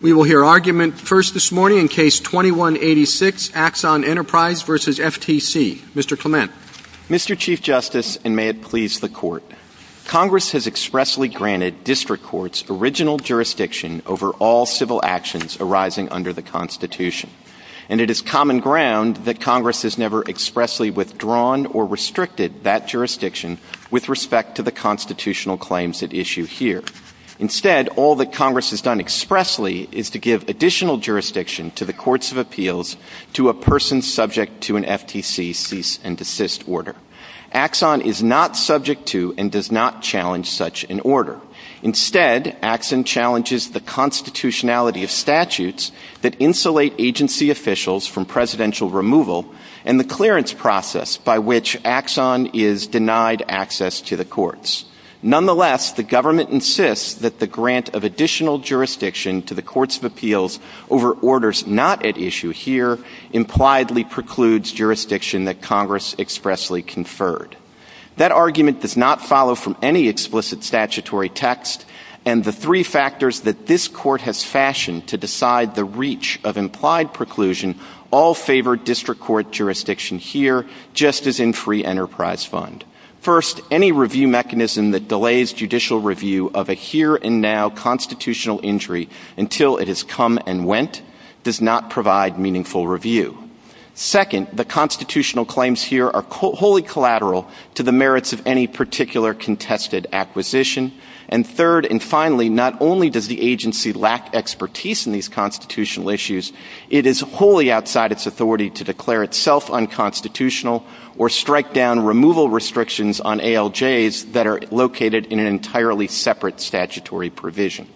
We will hear argument first this morning in Case 21-86, Axon Enterprise v. FTC. Mr. Clement. Mr. Chief Justice, and may it please the Court, Congress has expressly granted district courts original jurisdiction over all civil actions arising under the Constitution, and it is common ground that Congress has never expressly withdrawn or restricted that jurisdiction with respect to the constitutional claims at issue here. Instead, all that Congress has done expressly is to give additional jurisdiction to the Courts of Appeals to a person subject to an FTC cease and desist order. Axon is not subject to and does not challenge such an order. Instead, Axon challenges the constitutionality of statutes that insulate agency officials from presidential removal and the clearance process by which Axon is denied access to the courts. Nonetheless, the government insists that the grant of additional jurisdiction to the Courts of Appeals over orders not at issue here impliedly precludes jurisdiction that Congress expressly conferred. That argument does not follow from any explicit statutory text, and the three factors that this Court has fashioned to decide the reach of implied preclusion all favor district court jurisdiction here, just as in free enterprise fund. First, any review mechanism that delays judicial review of a here and now constitutional injury until it has come and went does not provide meaningful review. Second, the constitutional claims here are wholly collateral to the merits of any particular contested acquisition. And third and finally, not only does the agency lack expertise in these constitutional issues, it is wholly outside its authority to declare itself unconstitutional or strike down removal restrictions on ALJs that are located in an entirely separate statutory provision.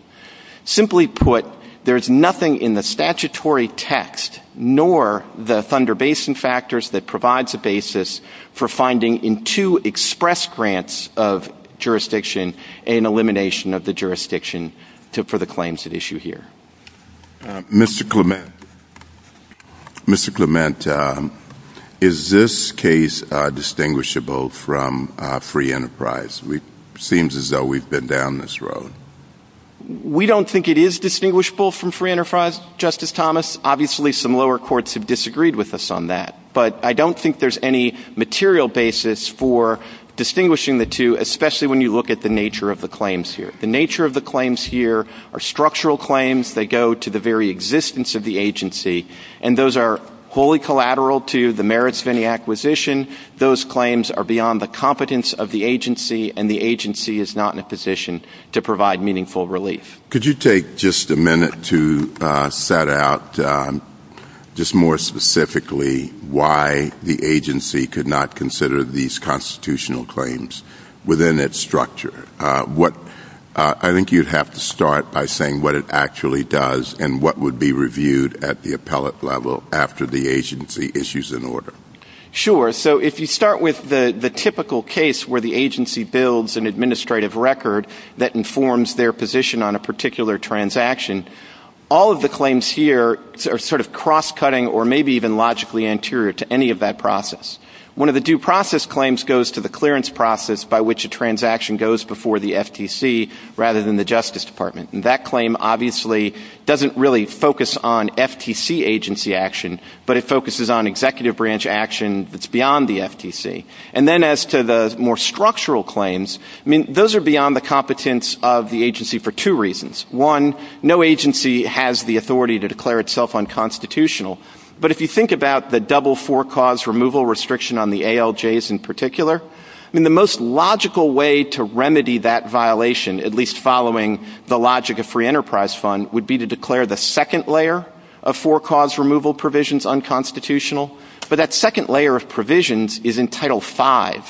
Simply put, there is nothing in the statutory text nor the Thunder Basin factors that provides a basis for finding in two express grants of jurisdiction an elimination of the jurisdiction for the claims at issue here. Mr. Clement. Mr. Clement, is this case distinguishable from free enterprise? It seems as though we've been down this road. We don't think it is distinguishable from free enterprise, Justice Thomas. Obviously, some lower courts have disagreed with us on that, but I don't think there's any material basis for distinguishing the two, especially when you look at the nature of the claims here. The nature of the claims here are structural claims that go to the very existence of the agency, and those are wholly collateral to the merits of any acquisition. Those claims are beyond the competence of the agency, and the agency is not in a position to provide meaningful relief. Could you take just a minute to set out just more specifically why the agency could not consider these constitutional claims within its structure? I think you'd have to start by saying what it actually does and what would be reviewed at the appellate level after the agency issues an order. Sure. So if you start with the typical case where the agency builds an administrative record that informs their position on a particular transaction, all of the claims here are sort of cross-cutting or maybe even logically anterior to any of that process. One of the due process claims goes to the clearance process by which a transaction goes before the FTC rather than the Justice Department, and that claim obviously doesn't really focus on FTC agency action, but it focuses on executive branch action that's beyond the FTC. And then as to the more structural claims, I mean, those are beyond the competence of the agency for two reasons. One, no agency has the authority to declare itself unconstitutional, but if you think about the double four-cause removal restriction on the ALJs in particular, I mean, the most logical way to remedy that violation, at least following the logic of free enterprise fund, would be to declare the second layer of four-cause removal provisions unconstitutional, but that second layer of provisions is in Title V,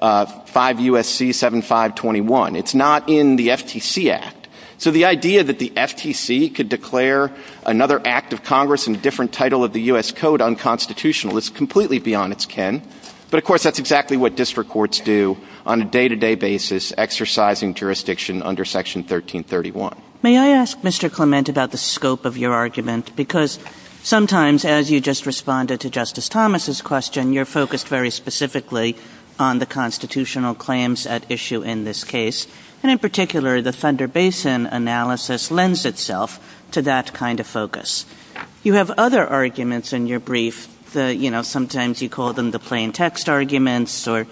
5 U.S.C. 7521. It's not in the FTC Act. So the idea that the FTC could declare another act of Congress in a different title of the U.S. Code unconstitutional is completely beyond its kin, but, of course, that's exactly what district courts do on a day-to-day basis exercising jurisdiction under Section 1331. May I ask, Mr. Clement, about the scope of your argument? Because sometimes, as you just responded to Justice Thomas' question, you're focused very specifically on the constitutional claims at issue in this case, and in particular, the Thunder Basin analysis lends itself to that kind of focus. You have other arguments in your brief. You know, sometimes you call them the plain text arguments or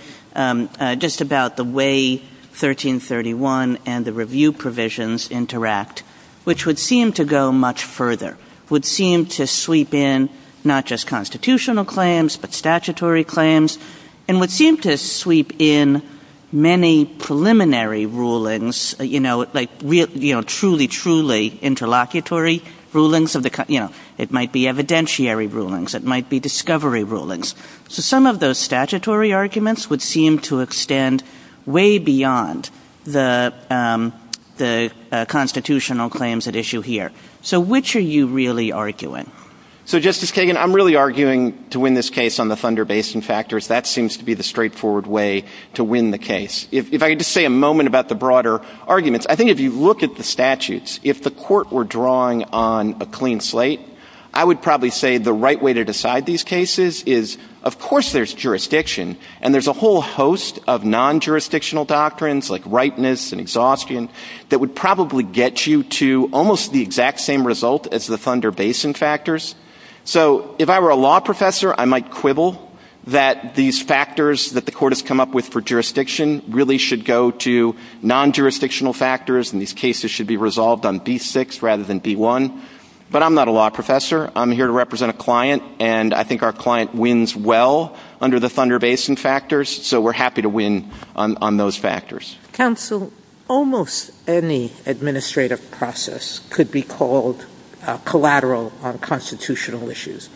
just about the way 1331 and the review provisions interact, which would seem to go much further, would seem to sweep in not just constitutional claims but statutory claims and would seem to sweep in many preliminary rulings, you know, like truly, truly interlocutory rulings. You know, it might be evidentiary rulings. It might be discovery rulings. So some of those statutory arguments would seem to extend way beyond the constitutional claims at issue here. So which are you really arguing? So, Justice Kagan, I'm really arguing to win this case on the Thunder Basin factors. That seems to be the straightforward way to win the case. If I could just say a moment about the broader arguments. I think if you look at the statutes, if the court were drawing on a clean slate, I would probably say the right way to decide these cases is, of course, there's jurisdiction, and there's a whole host of non-jurisdictional doctrines like rightness and exhaustion that would probably get you to almost the exact same result as the Thunder Basin factors. So if I were a law professor, I might quibble that these factors that the court has come up with for jurisdiction really should go to non-jurisdictional factors and these cases should be resolved on D6 rather than D1. But I'm not a law professor. I'm here to represent a client, and I think our client wins well under the Thunder Basin factors, so we're happy to win on those factors. Counsel, almost any administrative process could be called collateral on constitutional issues.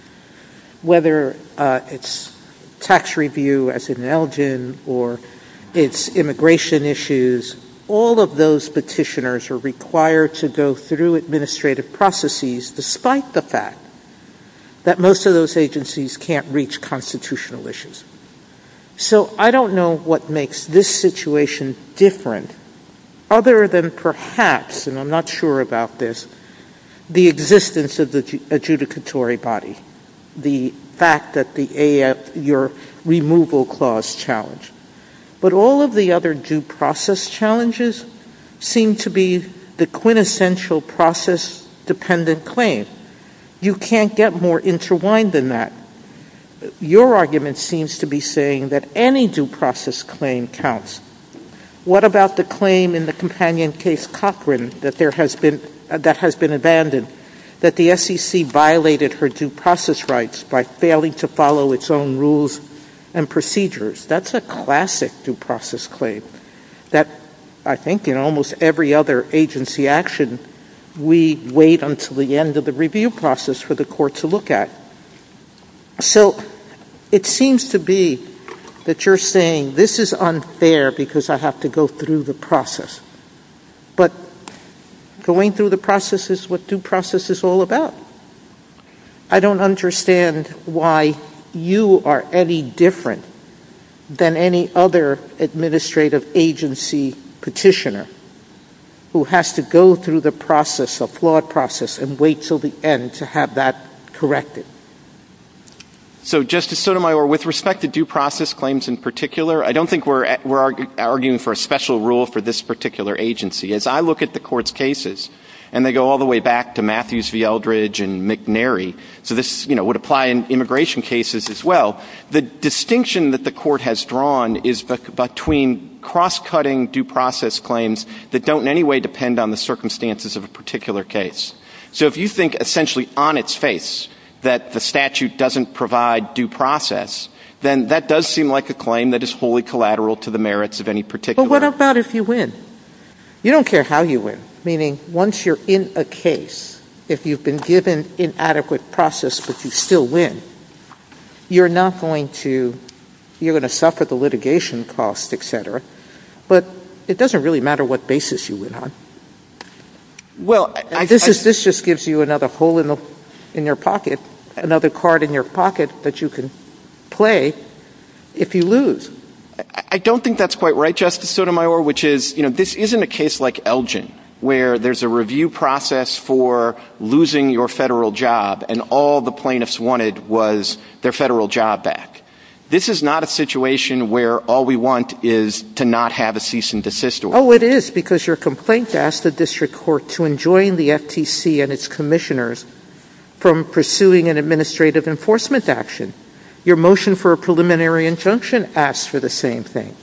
Whether it's tax review, as in Elgin, or it's immigration issues, all of those petitioners are required to go through administrative processes despite the fact that most of those agencies can't reach constitutional issues. So I don't know what makes this situation different other than perhaps, and I'm not sure about this, the existence of the adjudicatory body, the fact that the AF, your removal clause challenge. But all of the other due process challenges seem to be the quintessential process-dependent claim. You can't get more interwined than that. Your argument seems to be saying that any due process claim counts. What about the claim in the companion case Cochran that has been abandoned, that the SEC violated her due process rights by failing to follow its own rules and procedures? That's a classic due process claim that, I think, in almost every other agency action, we wait until the end of the review process for the court to look at. So it seems to be that you're saying this is unfair because I have to go through the process. But going through the process is what due process is all about. I don't understand why you are any different than any other administrative agency petitioner who has to go through the process, a flawed process, and wait until the end to have that corrected. So, Justice Sotomayor, with respect to due process claims in particular, I don't think we're arguing for a special rule for this particular agency. As I look at the Court's cases, and they go all the way back to Matthews v. Eldridge and McNary, so this would apply in immigration cases as well, the distinction that the Court has drawn is between cross-cutting due process claims that don't in any way depend on the circumstances of a particular case. So if you think essentially on its face that the statute doesn't provide due process, then that does seem like a claim that is wholly collateral to the merits of any particular case. Well, what about if you win? You don't care how you win. Meaning, once you're in a case, if you've been given inadequate process but you still win, you're not going to suffer the litigation cost, etc. But it doesn't really matter what basis you win on. Well, this just gives you another hole in your pocket, another card in your pocket that you can play if you lose. I don't think that's quite right, Justice Sotomayor, which is, you know, this isn't a case like Elgin, where there's a review process for losing your federal job, and all the plaintiffs wanted was their federal job back. This is not a situation where all we want is to not have a cease and desist order. Oh, it is, because your complaint asks the District Court to enjoin the FTC and its commissioners from pursuing an administrative enforcement action. Your motion for a preliminary injunction asks for the same thing.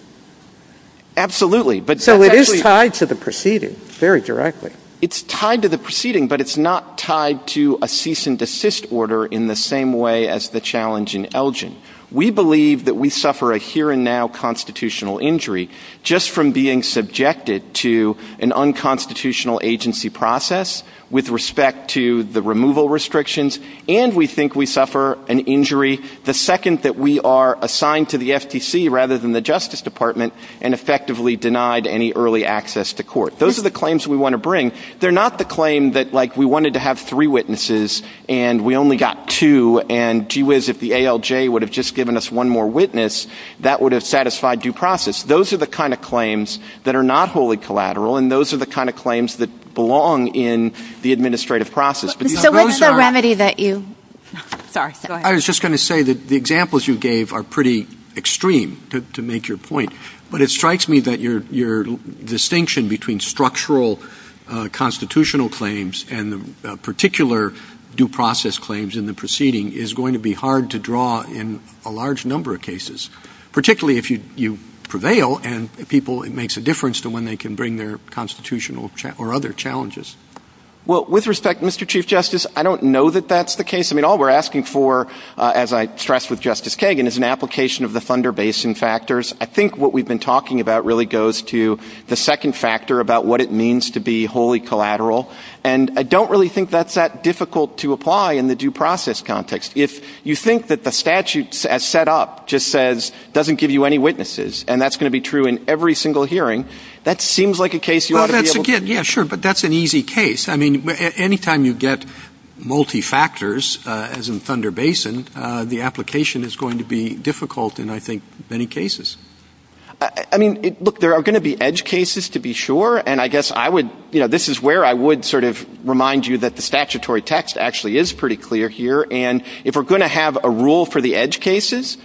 Absolutely. So it is tied to the proceeding, very directly. It's tied to the proceeding, but it's not tied to a cease and desist order in the same way as the challenge in Elgin. We believe that we suffer a here-and-now constitutional injury just from being subjected to an unconstitutional agency process with respect to the removal restrictions, and we think we suffer an injury the second that we are assigned to the FTC rather than the Justice Department and effectively denied any early access to court. Those are the claims we want to bring. They're not the claim that, like, we wanted to have three witnesses and we only got two, and gee whiz, if the ALJ would have just given us one more witness, that would have satisfied due process. Those are the kind of claims that are not wholly collateral, and those are the kind of claims that belong in the administrative process. So what's the remedy that you – sorry, go ahead. I was just going to say that the examples you gave are pretty extreme, to make your point, but it strikes me that your distinction between structural constitutional claims and the particular due process claims in the proceeding is going to be hard to draw in a large number of cases, particularly if you prevail and people – it makes a difference to when they can bring their constitutional or other challenges. Well, with respect, Mr. Chief Justice, I don't know that that's the case. I mean, all we're asking for, as I stressed with Justice Kagan, is an application of the Thunder Basin factors. I think what we've been talking about really goes to the second factor about what it means to be wholly collateral, and I don't really think that's that difficult to apply in the due process context. If you think that the statute as set up just says it doesn't give you any witnesses, and that's going to be true in every single hearing, that seems like a case you ought to be able to – Well, that's – yeah, sure, but that's an easy case. I mean, any time you get multi-factors, as in Thunder Basin, the application is going to be difficult in, I think, many cases. I mean, look, there are going to be edge cases, to be sure, and I guess I would – you know, this is where I would sort of remind you that the statutory text actually is pretty clear here, and if we're going to have a rule for the edge cases,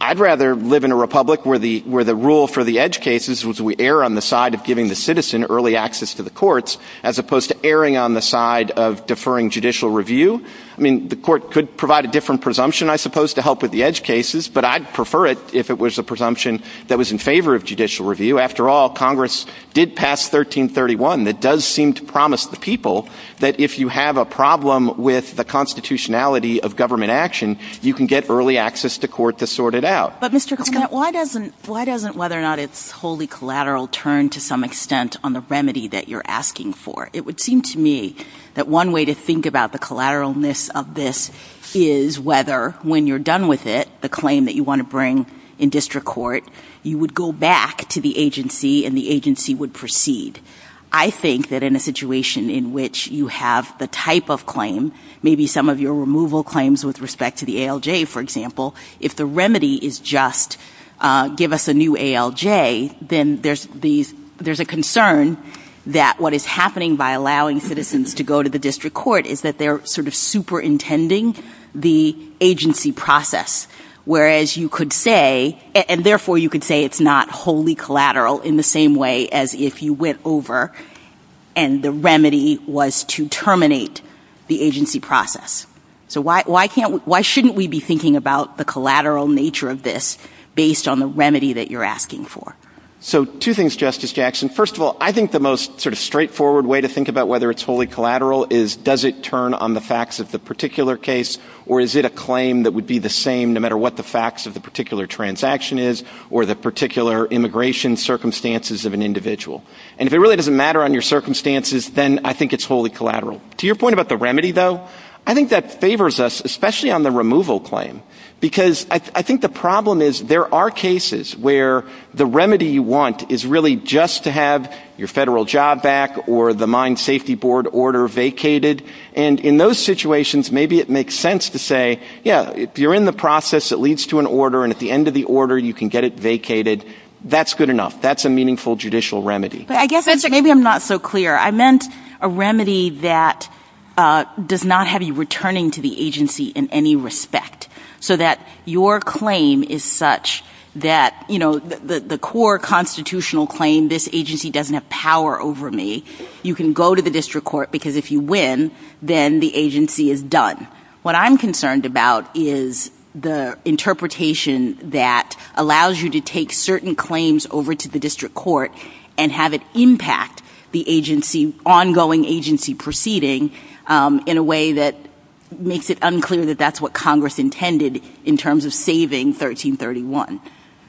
I'd rather live in a republic where the rule for the edge cases was we err on the side of giving the citizen early access to the courts as opposed to erring on the side of deferring judicial review. I mean, the court could provide a different presumption, I suppose, to help with the edge cases, but I'd prefer it if it was a presumption that was in favor of judicial review. After all, Congress did pass 1331. It does seem to promise the people that if you have a problem with the constitutionality of government action, you can get early access to court to sort it out. But, Mr. Clement, why doesn't whether or not it's wholly collateral turn to some extent on the remedy that you're asking for? It would seem to me that one way to think about the collateralness of this is whether, when you're done with it, the claim that you want to bring in district court, you would go back to the agency and the agency would proceed. I think that in a situation in which you have the type of claim, maybe some of your removal claims with respect to the ALJ, for example, if the remedy is just give us a new ALJ, then there's a concern that what is happening by allowing citizens to go to the district court is that they're sort of superintending the agency process, whereas you could say, and therefore you could say it's not wholly collateral in the same way as if you went over and the remedy was to terminate the agency process. So why shouldn't we be thinking about the collateral nature of this based on the remedy that you're asking for? So two things, Justice Jackson. First of all, I think the most sort of straightforward way to think about whether it's wholly collateral is does it turn on the facts of the particular case or is it a claim that would be the same, no matter what the facts of the particular transaction is or the particular immigration circumstances of an individual. And if it really doesn't matter on your circumstances, then I think it's wholly collateral. To your point about the remedy, though, I think that favors us, especially on the removal claim, because I think the problem is there are cases where the remedy you want is really just to have your federal job back or the Mine Safety Board order vacated. And in those situations, maybe it makes sense to say, yeah, you're in the process, it leads to an order, and at the end of the order you can get it vacated. That's good enough. That's a meaningful judicial remedy. I guess maybe I'm not so clear. I meant a remedy that does not have you returning to the agency in any respect, so that your claim is such that, you know, the core constitutional claim, this agency doesn't have power over me. You can go to the district court because if you win, then the agency is done. What I'm concerned about is the interpretation that allows you to take certain claims over to the district court and have it impact the agency, ongoing agency proceeding, in a way that makes it unclear that that's what Congress intended in terms of saving 1331.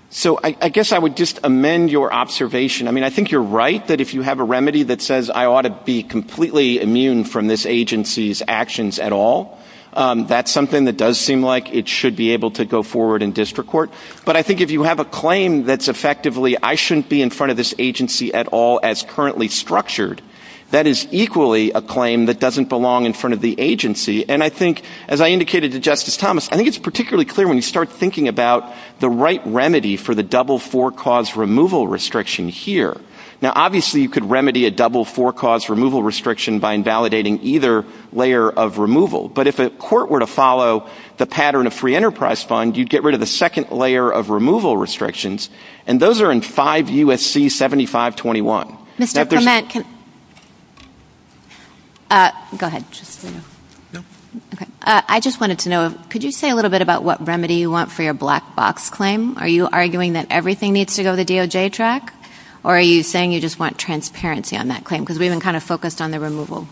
So I guess I would just amend your observation. I mean, I think you're right that if you have a remedy that says I ought to be completely immune from this agency's actions at all, that's something that does seem like it should be able to go forward in district court. But I think if you have a claim that's effectively I shouldn't be in front of this agency at all as currently structured, that is equally a claim that doesn't belong in front of the agency. And I think, as I indicated to Justice Thomas, I think it's particularly clear when you start thinking about the right remedy for the double four cause removal restriction here. Now, obviously, you could remedy a double four cause removal restriction by invalidating either layer of removal. But if a court were to follow the pattern of free enterprise fund, you'd get rid of the second layer of removal restrictions, and those are in 5 U.S.C. 7521. Mr. Clement, can I just say a little bit about what remedy you want for your black box claim? Are you arguing that everything needs to go to the DOJ track, or are you saying you just want transparency on that claim because we've been kind of focused on the removal?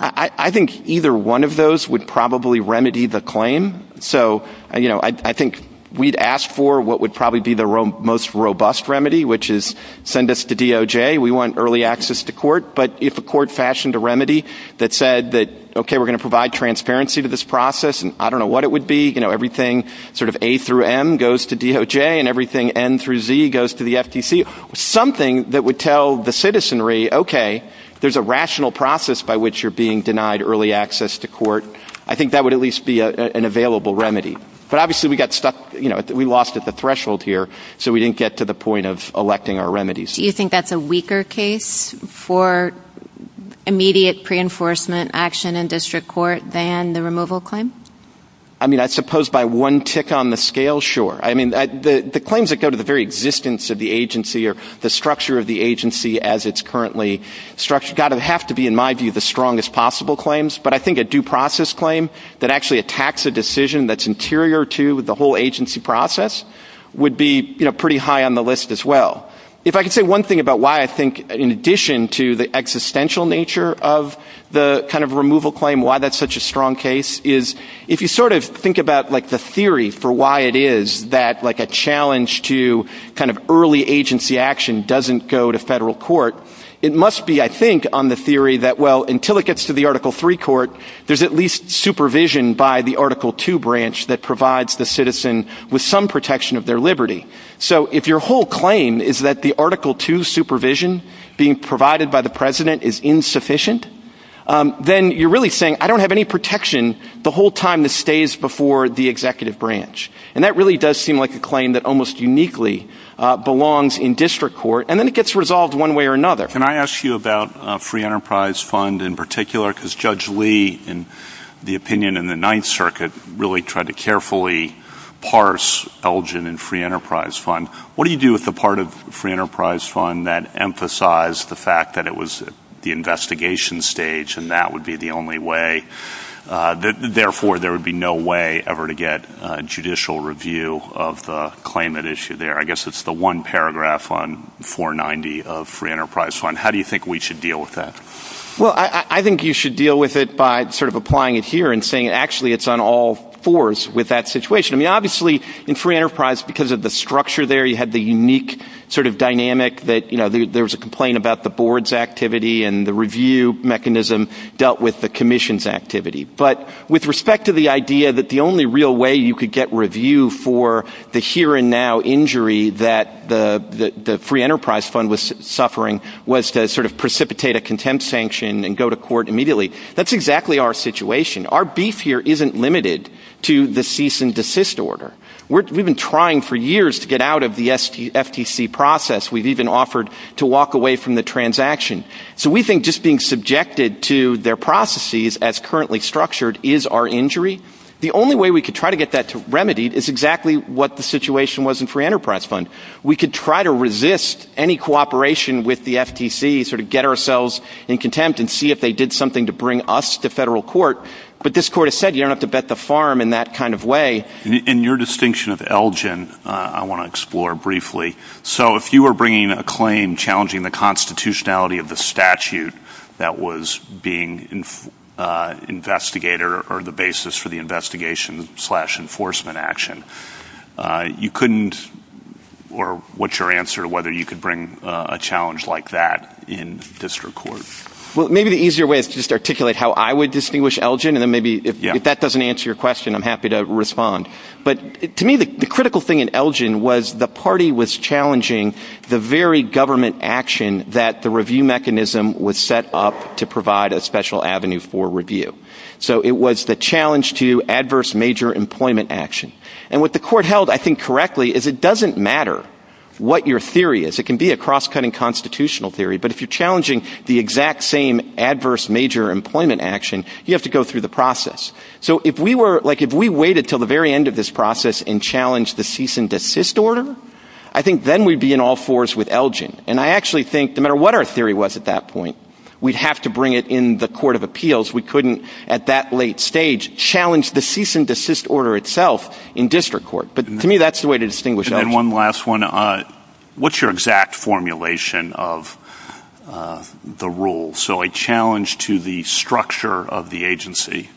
I think either one of those would probably remedy the claim. So, you know, I think we'd ask for what would probably be the most robust remedy, which is send us to DOJ. We want early access to court. But if a court fashioned a remedy that said that, OK, we're going to provide transparency to this process, and I don't know what it would be, you know, everything sort of A through M goes to DOJ and everything N through Z goes to the FTC, something that would tell the citizenry, OK, there's a rational process by which you're being denied early access to court, I think that would at least be an available remedy. But obviously we got stuck, you know, we lost at the threshold here, so we didn't get to the point of electing our remedies. Do you think that's a weaker case for immediate pre-enforcement action in district court than the removal claim? I mean, I suppose by one tick on the scale, sure. I mean, the claims that go to the very existence of the agency or the structure of the agency as it's currently structured have to be, in my view, the strongest possible claims. But I think a due process claim that actually attacks a decision that's interior to the whole agency process would be, you know, pretty high on the list as well. If I could say one thing about why I think in addition to the existential nature of the kind of removal claim, why that's such a strong case is if you sort of think about like the theory for why it is that like a challenge to kind of early agency action doesn't go to federal court, it must be, I think, on the theory that, well, until it gets to the Article 3 court, there's at least supervision by the Article 2 branch that provides the citizen with some protection of their liberty. So if your whole claim is that the Article 2 supervision being provided by the president is insufficient, then you're really saying, I don't have any protection the whole time this stays before the executive branch. And that really does seem like a claim that almost uniquely belongs in district court. And then it gets resolved one way or another. Can I ask you about Free Enterprise Fund in particular? Because Judge Lee, in the opinion in the Ninth Circuit, really tried to carefully parse Elgin and Free Enterprise Fund. What do you do with the part of Free Enterprise Fund that emphasized the fact that it was the investigation stage and that would be the only way? Therefore, there would be no way ever to get a judicial review of the claim that issue there. I guess it's the one paragraph on 490 of Free Enterprise Fund. How do you think we should deal with that? Well, I think you should deal with it by sort of applying it here and saying, actually, it's on all fours with that situation. I mean, obviously, in Free Enterprise, because of the structure there, you have the unique sort of dynamic that, you know, there was a complaint about the board's activity and the review mechanism dealt with the commission's activity. But with respect to the idea that the only real way you could get review for the here and now injury that the Free Enterprise Fund was suffering was to sort of precipitate a contempt sanction and go to court immediately, that's exactly our situation. Our beef here isn't limited to the cease and desist order. We've been trying for years to get out of the FTC process. We've even offered to walk away from the transaction. So we think just being subjected to their processes as currently structured is our injury. The only way we could try to get that remedied is exactly what the situation was in Free Enterprise Fund. We could try to resist any cooperation with the FTC, sort of get ourselves in contempt and see if they did something to bring us to federal court. But this court has said you don't have to bet the farm in that kind of way. In your distinction of Elgin, I want to explore briefly. So if you were bringing a claim challenging the constitutionality of the statute that was being investigator or the basis for the investigation slash enforcement action, you couldn't or what's your answer to whether you could bring a challenge like that in district court? Well, maybe the easier way is to just articulate how I would distinguish Elgin and then maybe if that doesn't answer your question, I'm happy to respond. But to me, the critical thing in Elgin was the party was challenging the very government action that the review mechanism was set up to provide a special avenue for review. So it was the challenge to adverse major employment action. And what the court held, I think correctly, is it doesn't matter what your theory is. It can be a cross-cutting constitutional theory. But if you're challenging the exact same adverse major employment action, you have to go through the process. So if we waited until the very end of this process and challenged the cease and desist order, I think then we'd be in all fours with Elgin. And I actually think no matter what our theory was at that point, we'd have to bring it in the court of appeals. We couldn't at that late stage challenge the cease and desist order itself in district court. But to me, that's the way to distinguish Elgin. And one last one. What's your exact formulation of the rule? So a challenge to the structure of the agency,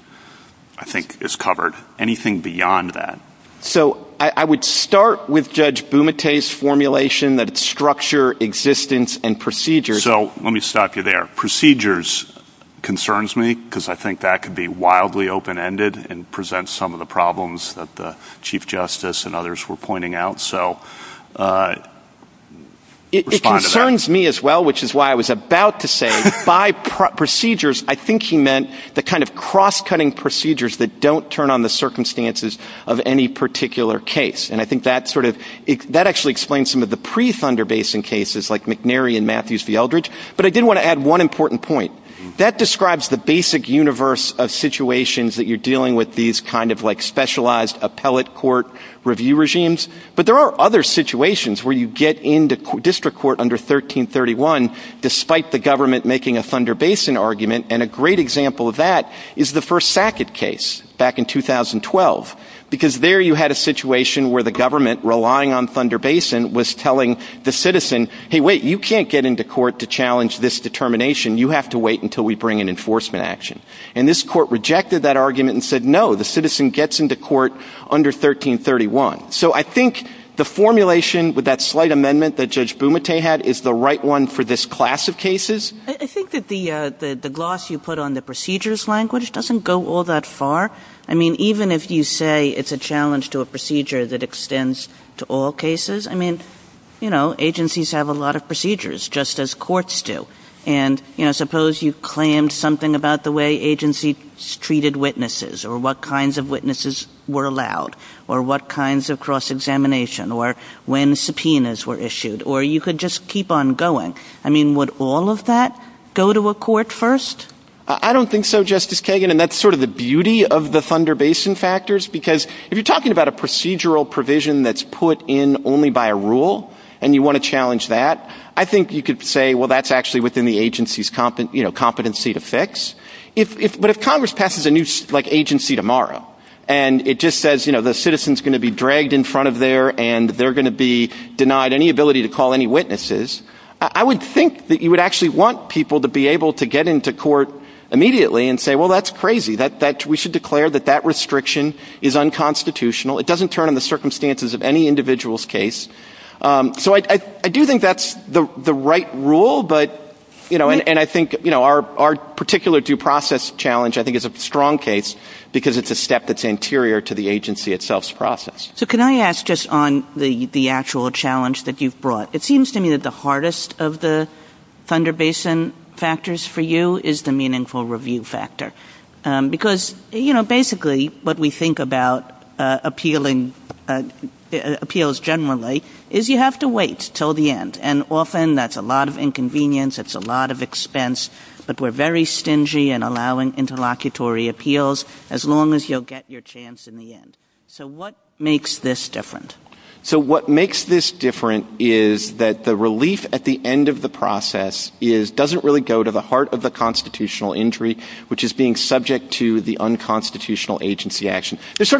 I think, is covered. Anything beyond that? So I would start with Judge Bumate's formulation that it's structure, existence, and procedure. So let me stop you there. Procedures concerns me because I think that could be wildly open-ended and present some of the problems that the Chief Justice and others were pointing out. So respond to that. It concerns me as well, which is why I was about to say by procedures, I think he meant the kind of cross-cutting procedures that don't turn on the circumstances of any particular case. And I think that actually explains some of the pre-Thunder Basin cases like McNary and Matthews v. Eldridge. But I did want to add one important point. That describes the basic universe of situations that you're dealing with, these kind of like specialized appellate court review regimes. But there are other situations where you get into district court under 1331 despite the government making a Thunder Basin argument. And a great example of that is the first Sackett case back in 2012. Because there you had a situation where the government, relying on Thunder Basin, was telling the citizen, hey, wait, you can't get into court to challenge this determination. You have to wait until we bring an enforcement action. And this court rejected that argument and said, no, the citizen gets into court under 1331. So I think the formulation with that slight amendment that Judge Bumate had is the right one for this class of cases. I think that the gloss you put on the procedures language doesn't go all that far. I mean, even if you say it's a challenge to a procedure that extends to all cases, I mean, you know, agencies have a lot of procedures just as courts do. And, you know, suppose you claimed something about the way agencies treated witnesses or what kinds of witnesses were allowed or what kinds of cross-examination or when subpoenas were issued. Or you could just keep on going. I mean, would all of that go to a court first? I don't think so, Justice Kagan, and that's sort of the beauty of the Thunder Basin factors. Because if you're talking about a procedural provision that's put in only by a rule and you want to challenge that, I think you could say, well, that's actually within the agency's competency to fix. But if Congress passes a new agency tomorrow and it just says, you know, the citizen's going to be dragged in front of there and they're going to be denied any ability to call any witnesses, I would think that you would actually want people to be able to get into court immediately and say, well, that's crazy. We should declare that that restriction is unconstitutional. It doesn't turn on the circumstances of any individual's case. So I do think that's the right rule, but, you know, and I think, you know, our particular due process challenge I think is a strong case because it's a step that's anterior to the agency itself's process. So can I ask just on the actual challenge that you've brought? It seems to me that the hardest of the Thunder Basin factors for you is the meaningful review factor. Because, you know, basically what we think about appeals generally is you have to wait until the end. And often that's a lot of inconvenience, it's a lot of expense, but we're very stingy in allowing interlocutory appeals as long as you'll get your chance in the end. So what makes this different? So what makes this different is that the relief at the end of the process doesn't really go to the heart of the constitutional injury, which is being subject to the unconstitutional agency action. So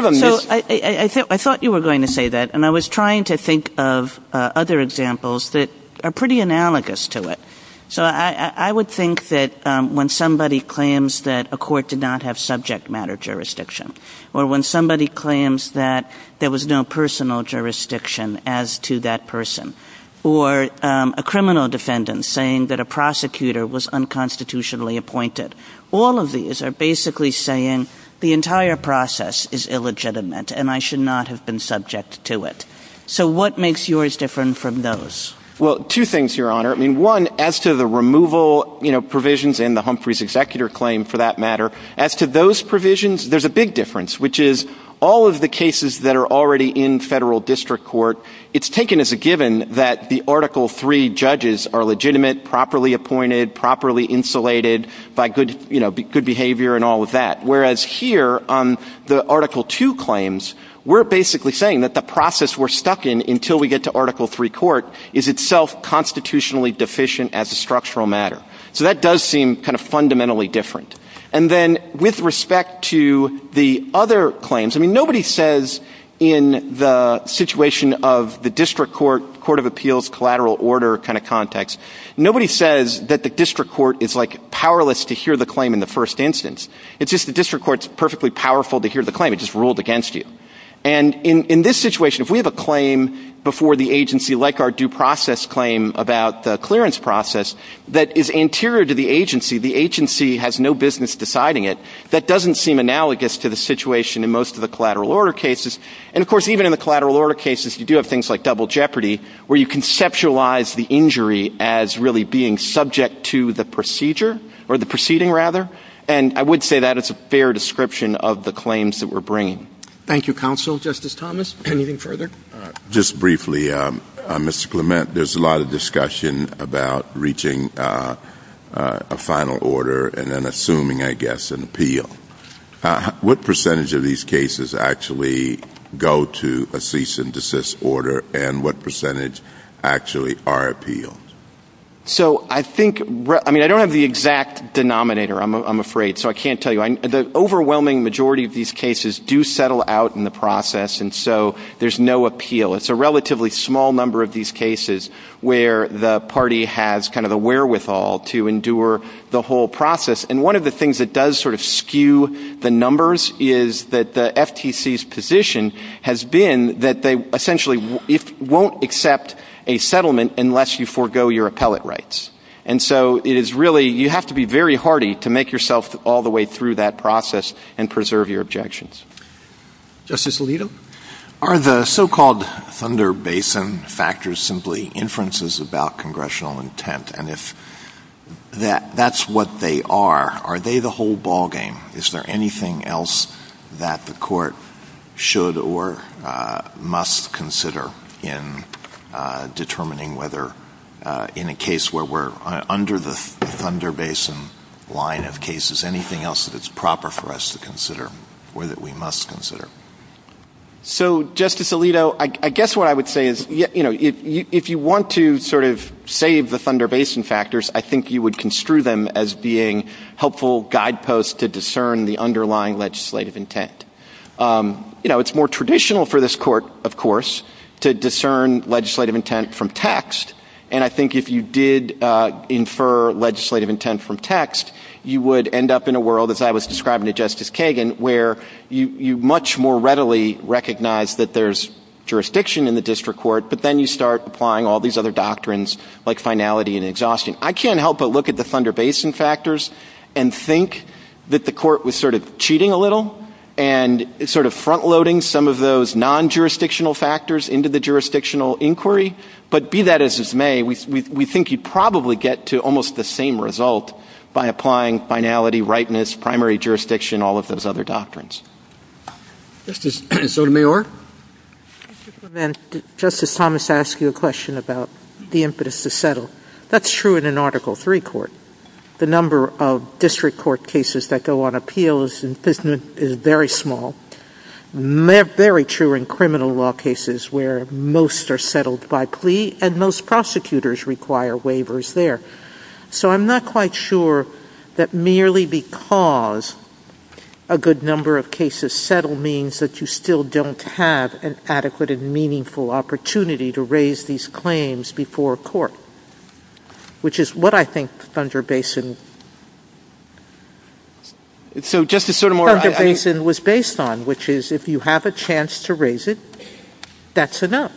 I thought you were going to say that, and I was trying to think of other examples that are pretty analogous to it. So I would think that when somebody claims that a court did not have subject matter jurisdiction, or when somebody claims that there was no personal jurisdiction as to that person, or a criminal defendant saying that a prosecutor was unconstitutionally appointed, all of these are basically saying the entire process is illegitimate and I should not have been subject to it. So what makes yours different from those? Well, two things, Your Honor. One, as to the removal provisions in the Humphreys executor claim, for that matter, as to those provisions, there's a big difference, which is all of the cases that are already in federal district court, it's taken as a given that the Article III judges are legitimate, properly appointed, properly insulated, by good behavior and all of that. Whereas here, on the Article II claims, we're basically saying that the process we're stuck in until we get to Article III court is itself constitutionally deficient as a structural matter. So that does seem kind of fundamentally different. And then with respect to the other claims, I mean, nobody says in the situation of the district court, court of appeals, collateral order kind of context, nobody says that the district court is like powerless to hear the claim in the first instance. It's just the district court is perfectly powerful to hear the claim. It's just ruled against you. And in this situation, if we have a claim before the agency, like our due process claim about the clearance process, that is anterior to the agency, the agency has no business deciding it, that doesn't seem analogous to the situation in most of the collateral order cases. And, of course, even in the collateral order cases, you do have things like double jeopardy, where you conceptualize the injury as really being subject to the procedure or the proceeding, rather. And I would say that it's a fair description of the claims that we're bringing. Thank you, Counsel. Justice Thomas, anything further? Just briefly, Mr. Clement, there's a lot of discussion about reaching a final order and then assuming, I guess, an appeal. What percentage of these cases actually go to a cease and desist order, and what percentage actually are appealed? So I think, I mean, I don't have the exact denominator, I'm afraid, so I can't tell you. The overwhelming majority of these cases do settle out in the process, and so there's no appeal. It's a relatively small number of these cases where the party has kind of a wherewithal to endure the whole process. And one of the things that does sort of skew the numbers is that the FTC's position has been that they essentially won't accept a settlement unless you forego your appellate rights. And so it is really, you have to be very hardy to make yourself all the way through that process and preserve your objections. Justice Alito? Are the so-called Thunder Basin factors simply inferences about congressional intent, and if that's what they are, are they the whole ballgame? Is there anything else that the court should or must consider in determining whether, in a case where we're under the Thunder Basin line of cases, anything else that is proper for us to consider or that we must consider? So, Justice Alito, I guess what I would say is, you know, if you want to sort of save the Thunder Basin factors, I think you would construe them as being helpful guideposts to discern the underlying legislative intent. You know, it's more traditional for this Court, of course, to discern legislative intent from text, and I think if you did infer legislative intent from text, you would end up in a world, as I was describing to Justice Kagan, where you much more readily recognize that there's jurisdiction in the district court, but then you start applying all these other doctrines like finality and exhaustion. I can't help but look at the Thunder Basin factors and think that the court was sort of cheating a little and sort of front-loading some of those non-jurisdictional factors into the jurisdictional inquiry, but be that as it may, we think you'd probably get to almost the same result by applying finality, rightness, primary jurisdiction, all of those other doctrines. Justice Sotomayor? Justice Thomas asked you a question about the impetus to settle. That's true in an Article III court. The number of district court cases that go on appeal is very small. They're very true in criminal law cases where most are settled by plea, and most prosecutors require waivers there. So I'm not quite sure that merely because a good number of cases settle means that you still don't have an adequate and meaningful opportunity to raise these claims before a court, which is what I think Thunder Basin... Justice Sotomayor, I... ...Thunder Basin was based on, which is if you have a chance to raise it, that's enough.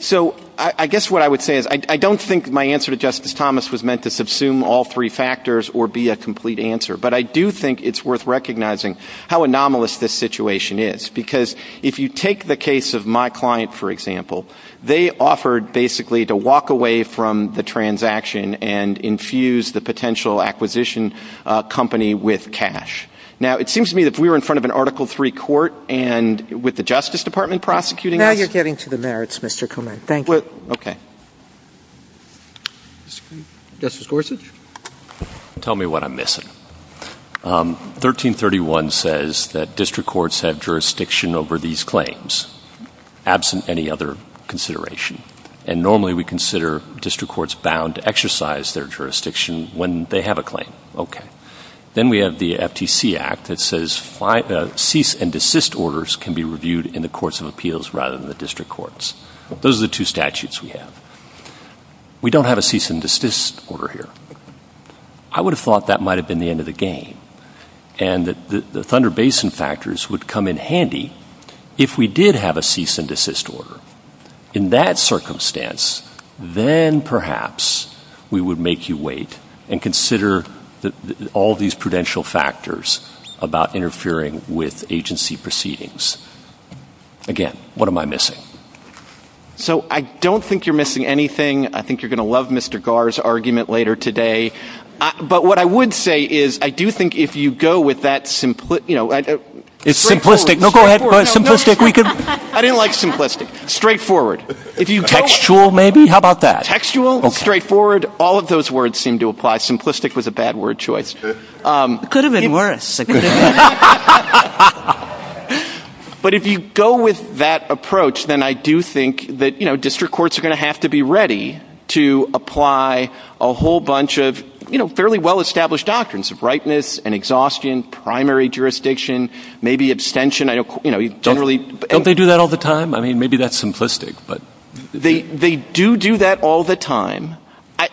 So I guess what I would say is I don't think my answer to Justice Thomas was meant to subsume all three factors or be a complete answer, but I do think it's worth recognizing how anomalous this situation is because if you take the case of my client, for example, they offered basically to walk away from the transaction and infuse the potential acquisition company with cash. Now, it seems to me that if we were in front of an Article III court and with the Justice Department prosecuting... Now you're getting to the merits, Mr. Komen. Thank you. Okay. Justice Gorsuch? Tell me what I'm missing. 1331 says that district courts have jurisdiction over these claims, absent any other consideration, and normally we consider district courts bound to exercise their jurisdiction when they have a claim. Okay. Then we have the FTC Act that says cease and desist orders can be reviewed in the courts of appeals rather than the district courts. Those are the two statutes we have. We don't have a cease and desist order here. I would have thought that might have been the end of the game and that the Thunder Basin factors would come in handy if we did have a cease and desist order. In that circumstance, then perhaps we would make you wait and consider all these prudential factors about interfering with agency proceedings. Again, what am I missing? So, I don't think you're missing anything. I think you're going to love Mr. Garr's argument later today. But what I would say is I do think if you go with that simplistic, you know, it's simplistic. No, go ahead. Simplistic. I didn't like simplistic. Straightforward. Textual, maybe? How about that? Textual, straightforward. All of those words seem to apply. Simplistic was a bad word choice. It could have been worse. But if you go with that approach, then I do think that, you know, district courts are going to have to be ready to apply a whole bunch of, you know, fairly well-established doctrines of rightness and exhaustion, primary jurisdiction, maybe abstention. Don't they do that all the time? I mean, maybe that's simplistic. They do do that all the time.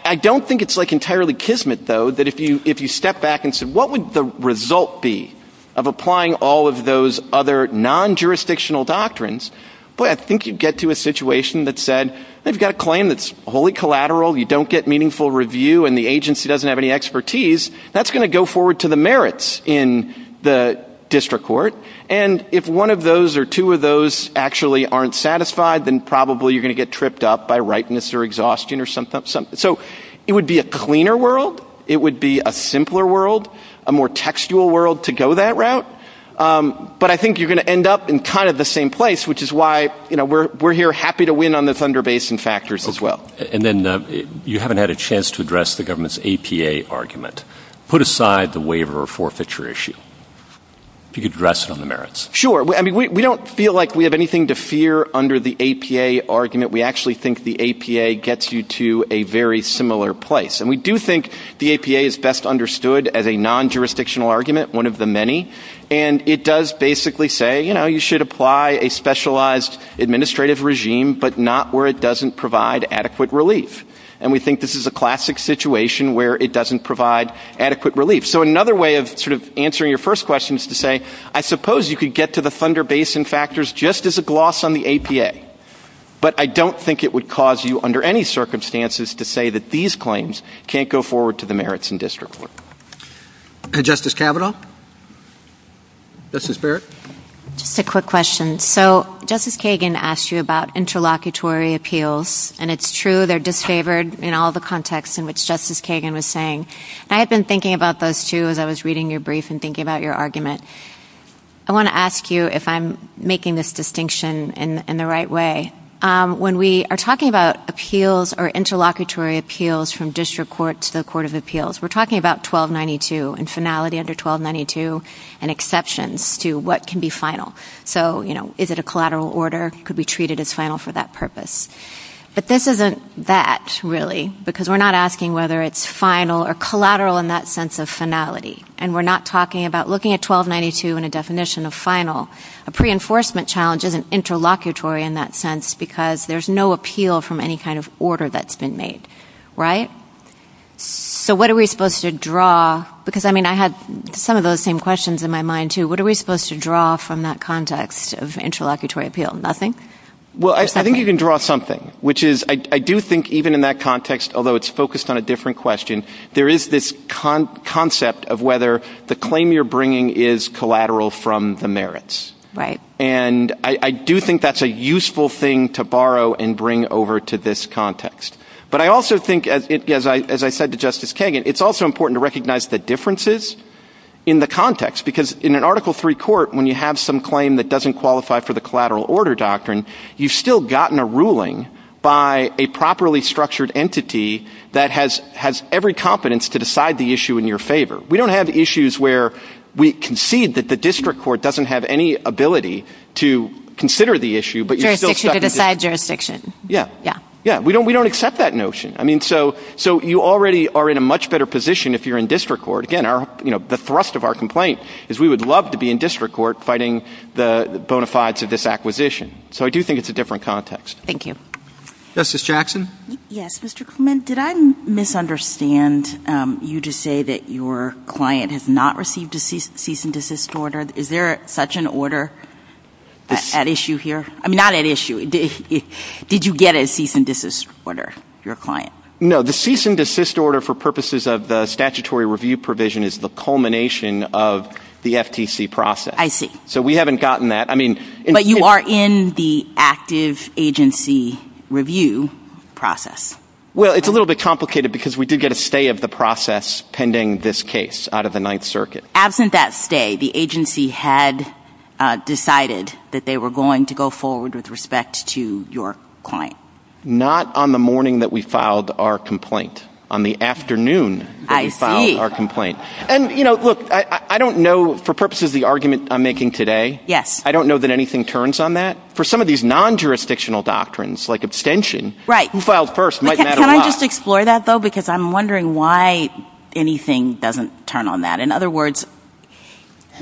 I don't think it's, like, entirely kismet, though, that if you step back and say, what would the result be of applying all of those other non-jurisdictional doctrines? Boy, I think you'd get to a situation that said, they've got a claim that's wholly collateral, you don't get meaningful review, and the agency doesn't have any expertise. That's going to go forward to the merits in the district court. And if one of those or two of those actually aren't satisfied, then probably you're going to get tripped up by rightness or exhaustion or something. So it would be a cleaner world. It would be a simpler world, a more textual world to go that route. But I think you're going to end up in kind of the same place, which is why we're here happy to win on the Thunder Basin factors as well. And then you haven't had a chance to address the government's APA argument. Put aside the waiver or forfeiture issue. If you could address it on the merits. Sure. I mean, we don't feel like we have anything to fear under the APA argument. We actually think the APA gets you to a very similar place. And we do think the APA is best understood as a non-jurisdictional argument, one of the many, and it does basically say, you know, you should apply a specialized administrative regime, but not where it doesn't provide adequate relief. And we think this is a classic situation where it doesn't provide adequate relief. So another way of sort of answering your first question is to say, I suppose you could get to the Thunder Basin factors just as a gloss on the APA, but I don't think it would cause you under any circumstances to say that these claims can't go forward to the merits in district court. And Justice Kavanaugh? Justice Barrett? Just a quick question. So Justice Kagan asked you about interlocutory appeals, and it's true they're disfavored in all the contexts in which Justice Kagan was saying. And I had been thinking about those, too, as I was reading your brief and thinking about your argument. I want to ask you if I'm making this distinction in the right way. When we are talking about appeals or interlocutory appeals from district court to the Court of Appeals, we're talking about 1292 and finality under 1292 and exceptions to what can be final. So, you know, is it a collateral order? Could we treat it as final for that purpose? But this isn't that, really, because we're not asking whether it's final or collateral in that sense of finality. And we're not talking about looking at 1292 in a definition of final. A pre-enforcement challenge isn't interlocutory in that sense because there's no appeal from any kind of order that's been made, right? So what are we supposed to draw? Because, I mean, I have some of those same questions in my mind, too. What are we supposed to draw from that context of interlocutory appeal? Nothing? Well, I think you can draw something, which is I do think even in that context, although it's focused on a different question, there is this concept of whether the claim you're bringing is collateral from the merits. Right. And I do think that's a useful thing to borrow and bring over to this context. But I also think, as I said to Justice Kagan, it's also important to recognize the differences in the context, because in an Article III court, when you have some claim that doesn't qualify for the collateral order doctrine, you've still gotten a ruling by a properly structured entity that has every confidence to decide the issue in your favor. We don't have issues where we concede that the district court doesn't have any ability to consider the issue, but you're still second to it. Jurisdiction to decide jurisdiction. Yeah. Yeah. We don't accept that notion. I mean, so you already are in a much better position if you're in district court. Again, the thrust of our complaint is we would love to be in district court fighting the bona fides of this acquisition. So I do think it's a different context. Thank you. Justice Jackson? Yes, Mr. Clement. Did I misunderstand you to say that your client has not received a cease and desist order? Is there such an order at issue here? I mean, not at issue. Did you get a cease and desist order, your client? No. The cease and desist order for purposes of the statutory review provision is the culmination of the FTC process. I see. So we haven't gotten that. But you are in the active agency review process. Well, it's a little bit complicated because we do get a stay of the process pending this case out of the Ninth Circuit. Absent that stay, the agency had decided that they were going to go forward with respect to your client. Not on the morning that we filed our complaint. On the afternoon that we filed our complaint. And, you know, look, I don't know, for purposes of the argument I'm making today, I don't know that anything turns on that. For some of these non-jurisdictional doctrines, like abstention, who filed first might matter a lot. Can I just explore that, though? Because I'm wondering why anything doesn't turn on that. In other words,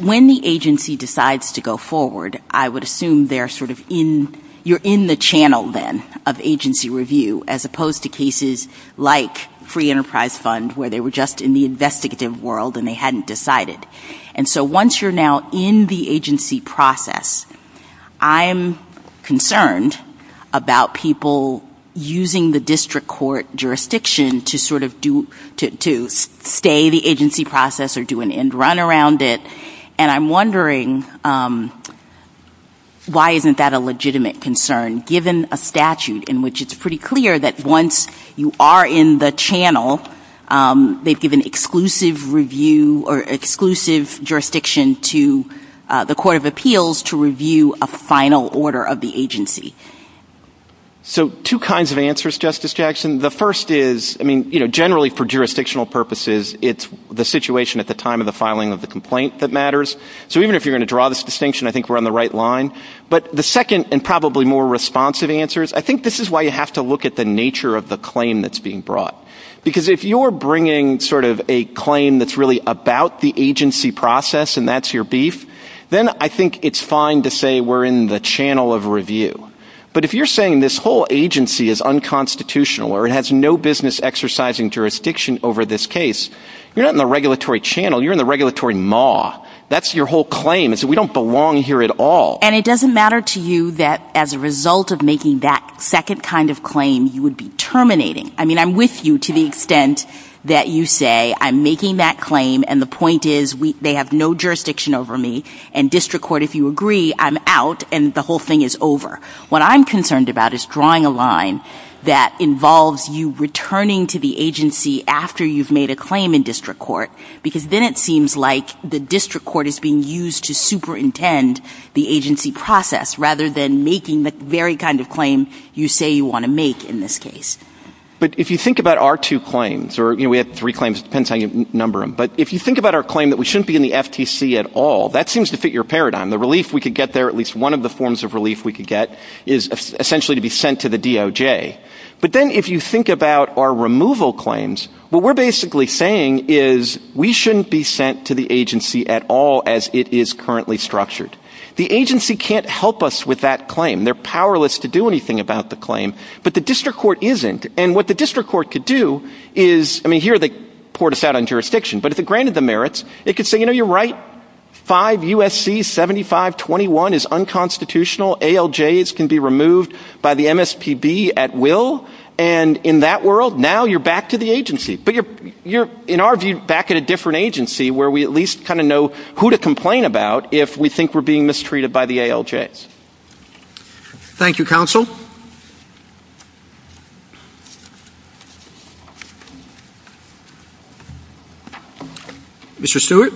when the agency decides to go forward, I would assume you're in the channel then of agency review as opposed to cases like Free Enterprise Fund where they were just in the investigative world and they hadn't decided. And so once you're now in the agency process, I'm concerned about people using the district court jurisdiction to sort of stay the agency process or do an end run around it. And I'm wondering why isn't that a legitimate concern given a statute in which it's pretty clear that once you are in the channel, they've given exclusive review or exclusive jurisdiction to the court of appeals to review a final order of the agency. So two kinds of answers, Justice Jackson. The first is generally for jurisdictional purposes, it's the situation at the time of the filing of the complaint that matters. So even if you're going to draw this distinction, I think we're on the right line. But the second and probably more responsive answer is I think this is why you have to look at the nature of the claim that's being brought. Because if you're bringing sort of a claim that's really about the agency process and that's your beef, then I think it's fine to say we're in the channel of review. But if you're saying this whole agency is unconstitutional or it has no business exercising jurisdiction over this case, you're not in the regulatory channel. You're in the regulatory maw. That's your whole claim is that we don't belong here at all. And it doesn't matter to you that as a result of making that second kind of claim, you would be terminating. I mean I'm with you to the extent that you say I'm making that claim and the point is they have no jurisdiction over me. And district court, if you agree, I'm out and the whole thing is over. What I'm concerned about is drawing a line that involves you returning to the agency after you've made a claim in district court. Because then it seems like the district court is being used to superintend the agency process rather than making the very kind of claim you say you want to make in this case. But if you think about our two claims, or we have three claims. It depends how you number them. But if you think about our claim that we shouldn't be in the FTC at all, that seems to fit your paradigm. The relief we could get there, at least one of the forms of relief we could get, is essentially to be sent to the DOJ. But then if you think about our removal claims, what we're basically saying is we shouldn't be sent to the agency at all as it is currently structured. The agency can't help us with that claim. They're powerless to do anything about the claim. But the district court isn't. And what the district court could do is, I mean, here they poured us out on jurisdiction. But if it granted the merits, it could say, you know, you're right. 5 U.S.C. 7521 is unconstitutional. ALJs can be removed by the MSPB at will. And in that world, now you're back to the agency. But you're, in our view, back at a different agency where we at least kind of know who to complain about if we think we're being mistreated by the ALJs. Thank you, counsel. Mr. Stewart.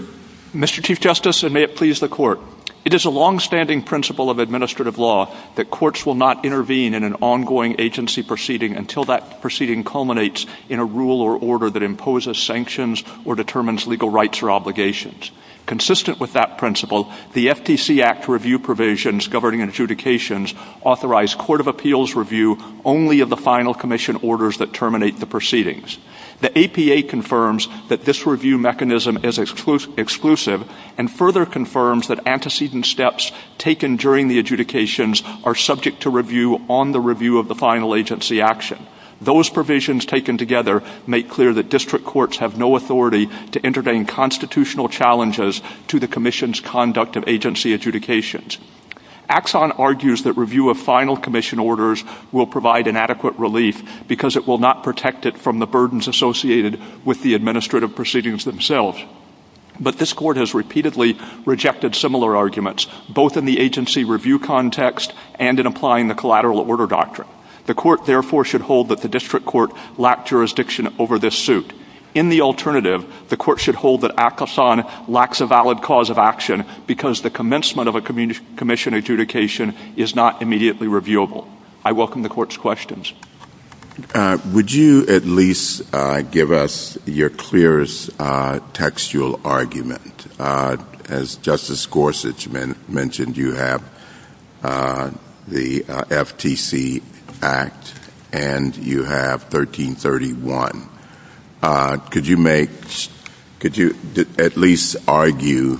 Mr. Chief Justice, and may it please the court. It is a longstanding principle of administrative law that courts will not intervene in an ongoing agency proceeding until that proceeding culminates in a rule or order that imposes sanctions or determines legal rights or obligations. Consistent with that principle, the FTC Act review provisions governing adjudications authorize court of appeals review only of the final commission orders that terminate the proceedings. The APA confirms that this review mechanism is exclusive and further confirms that antecedent steps taken during the adjudications are subject to review on the review of the final agency action. Those provisions taken together make clear that district courts have no authority to intervene constitutional challenges to the commission's conduct of agency adjudications. Axon argues that review of final commission orders will provide inadequate relief because it will not protect it from the burdens associated with the administrative proceedings themselves. But this court has repeatedly rejected similar arguments, both in the agency review context and in applying the collateral order doctrine. The court therefore should hold that the district court lacked jurisdiction over this suit. In the alternative, the court should hold that Axon lacks a valid cause of action because the commencement of a commission adjudication is not immediately reviewable. I welcome the Court's questions. Would you at least give us your clearest textual argument? As Justice Gorsuch mentioned, you have the FTC Act and you have 1331. Could you at least argue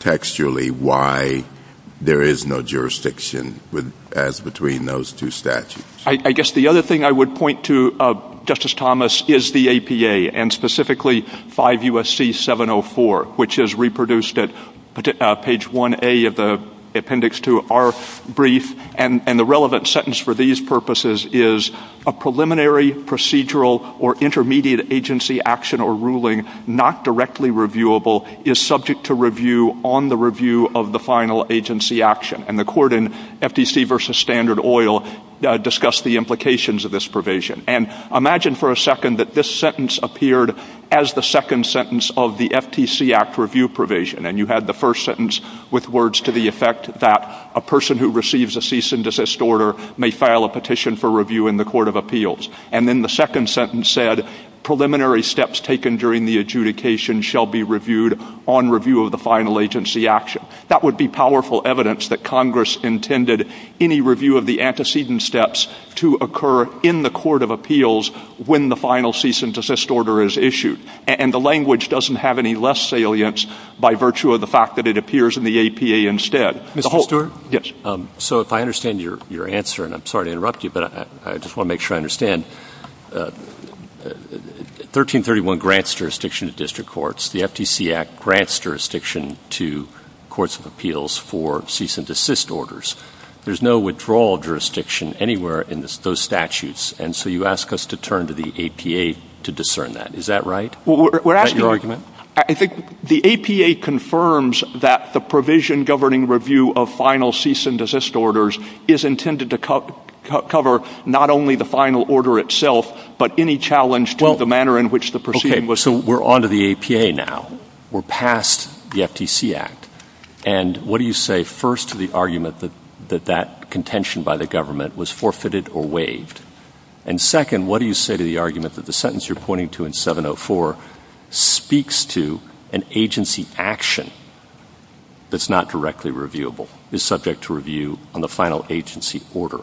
textually why there is no jurisdiction as between those two statutes? I guess the other thing I would point to, Justice Thomas, is the APA, and specifically 5 U.S.C. 704, which is reproduced at page 1A of the appendix to our brief. And the relevant sentence for these purposes is a preliminary, procedural, or intermediate agency action or ruling not directly reviewable is subject to review on the review of the final agency action. And the court in FTC v. Standard Oil discussed the implications of this provision. And imagine for a second that this sentence appeared as the second sentence of the FTC Act review provision, and you had the first sentence with words to the effect that a person who receives a cease and desist order may file a petition for review in the court of appeals. And then the second sentence said, preliminary steps taken during the adjudication shall be reviewed on review of the final agency action. That would be powerful evidence that Congress intended any review of the antecedent steps to occur in the court of appeals when the final cease and desist order is issued. And the language doesn't have any less salience by virtue of the fact that it appears in the APA instead. Mr. Stewart? So if I understand your answer, and I'm sorry to interrupt you, but I just want to make sure I understand. 1331 grants jurisdiction to district courts. The FTC Act grants jurisdiction to courts of appeals for cease and desist orders. There's no withdrawal jurisdiction anywhere in those statutes. And so you ask us to turn to the APA to discern that. Is that right? Is that your argument? I think the APA confirms that the provision governing review of final cease and desist orders is intended to cover not only the final order itself, but any challenge to the manner in which the proceeding was... Okay, so we're on to the APA now. We're past the FTC Act. And what do you say first to the argument that that contention by the government was forfeited or waived? And second, what do you say to the argument that the sentence you're pointing to in 704 speaks to an agency action that's not directly reviewable, is subject to review on the final agency order,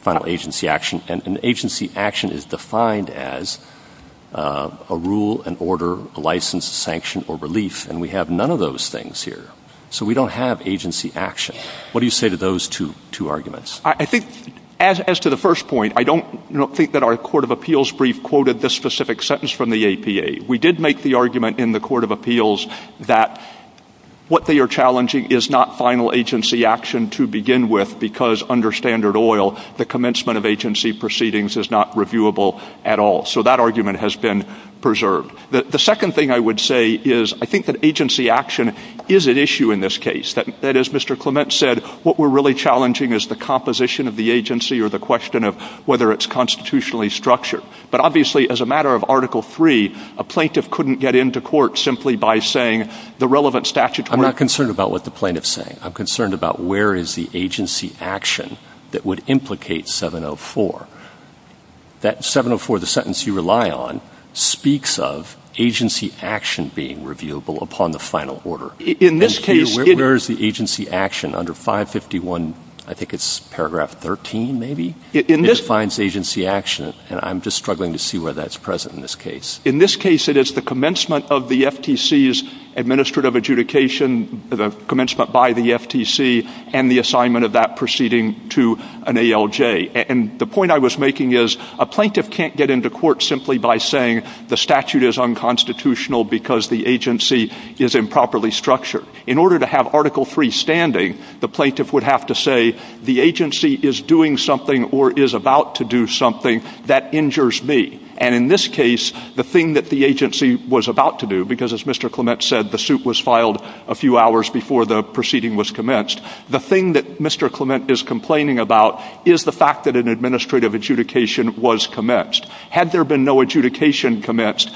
final agency action, and an agency action is defined as a rule, an order, a license, a sanction, or relief, and we have none of those things here. So we don't have agency action. What do you say to those two arguments? I think, as to the first point, I don't think that our court of appeals brief quoted this specific sentence from the APA. We did make the argument in the court of appeals that what they are challenging is not final agency action to begin with because, under standard oil, the commencement of agency proceedings is not reviewable at all. So that argument has been preserved. The second thing I would say is I think that agency action is at issue in this case. That is, Mr. Clement said, what we're really challenging is the composition of the agency or the question of whether it's constitutionally structured. But obviously, as a matter of Article III, a plaintiff couldn't get into court simply by saying the relevant statutory... I'm not concerned about what the plaintiff's saying. I'm concerned about where is the agency action that would implicate 704. That 704, the sentence you rely on, speaks of agency action being reviewable upon the final order. In this case... Where is the agency action under 551... I think it's paragraph 13, maybe? In this... Where is the agency action? I'm just struggling to see where that's present in this case. In this case, it is the commencement of the FTC's administrative adjudication, the commencement by the FTC, and the assignment of that proceeding to an ALJ. And the point I was making is a plaintiff can't get into court simply by saying the statute is unconstitutional because the agency is improperly structured. In order to have Article III standing, the plaintiff would have to say the agency is doing something or is about to do something that injures me. And in this case, the thing that the agency was about to do, because as Mr. Clement said, the suit was filed a few hours before the proceeding was commenced, the thing that Mr. Clement is complaining about is the fact that an administrative adjudication was commenced. Had there been no adjudication commenced,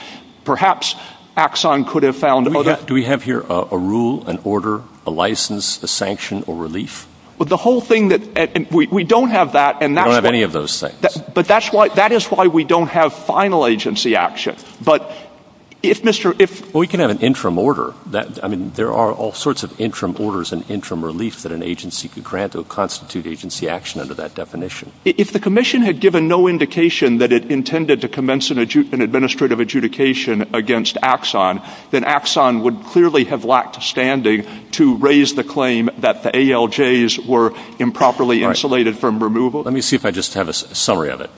perhaps Axon could have found other... Do we have here a rule, an order, a license, a sanction, or relief? Well, the whole thing that... We don't have that. We don't have any of those things. But that is why we don't have final agency action. But if Mr... We can have an interim order. I mean, there are all sorts of interim orders and interim relief that an agency could grant that would constitute agency action under that definition. If the Commission had given no indication that it intended to commence an administrative adjudication against Axon, then Axon would clearly have lacked standing to raise the claim that the ALJs were improperly insulated from removal. Let me see if I just have a summary of it,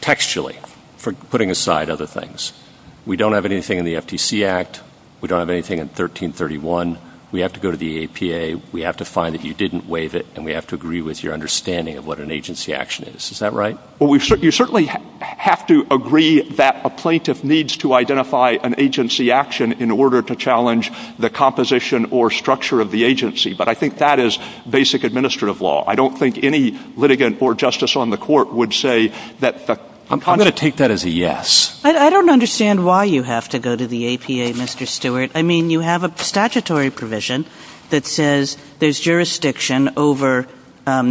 textually, for putting aside other things. We don't have anything in the FTC Act. We don't have anything in 1331. We have to go to the APA. We have to find that you didn't waive it, and we have to agree with your understanding of what an agency action is. Is that right? Well, you certainly have to agree that a plaintiff needs to identify an agency action in order to challenge the composition or structure of the agency, but I think that is basic administrative law. I don't think any litigant or justice on the court would say that... I'm going to take that as a yes. I don't understand why you have to go to the APA, Mr. Stewart. I mean, you have a statutory provision that says there's jurisdiction over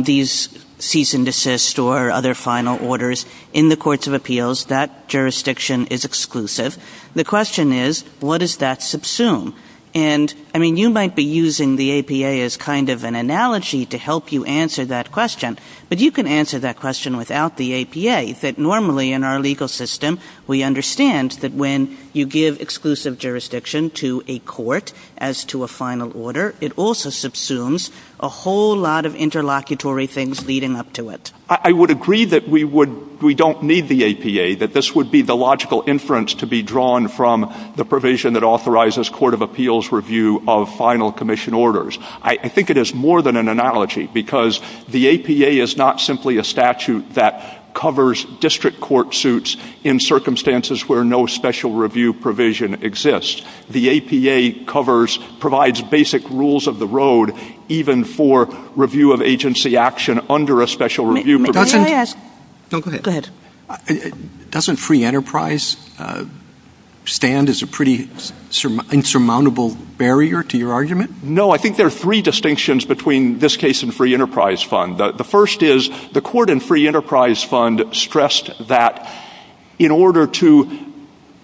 these cease and desist or other final orders in the courts of appeals. That jurisdiction is exclusive. The question is, what does that subsume? And, I mean, you might be using the APA as kind of an analogy to help you answer that question, but you can answer that question without the APA, that normally in our legal system, we understand that when you give exclusive jurisdiction to a court as to a final order, it also subsumes a whole lot of interlocutory things leading up to it. I would agree that we don't need the APA, that this would be the logical inference to be drawn from the provision that authorizes court of appeals review of final commission orders. I think it is more than an analogy because the APA is not simply a statute that covers district court suits in circumstances where no special review provision exists. The APA provides basic rules of the road even for review of agency action under a special review provision. Go ahead. Doesn't free enterprise stand as a pretty insurmountable barrier to your argument? No, I think there are three distinctions between this case and free enterprise fund. The first is the court in free enterprise fund stressed that in order to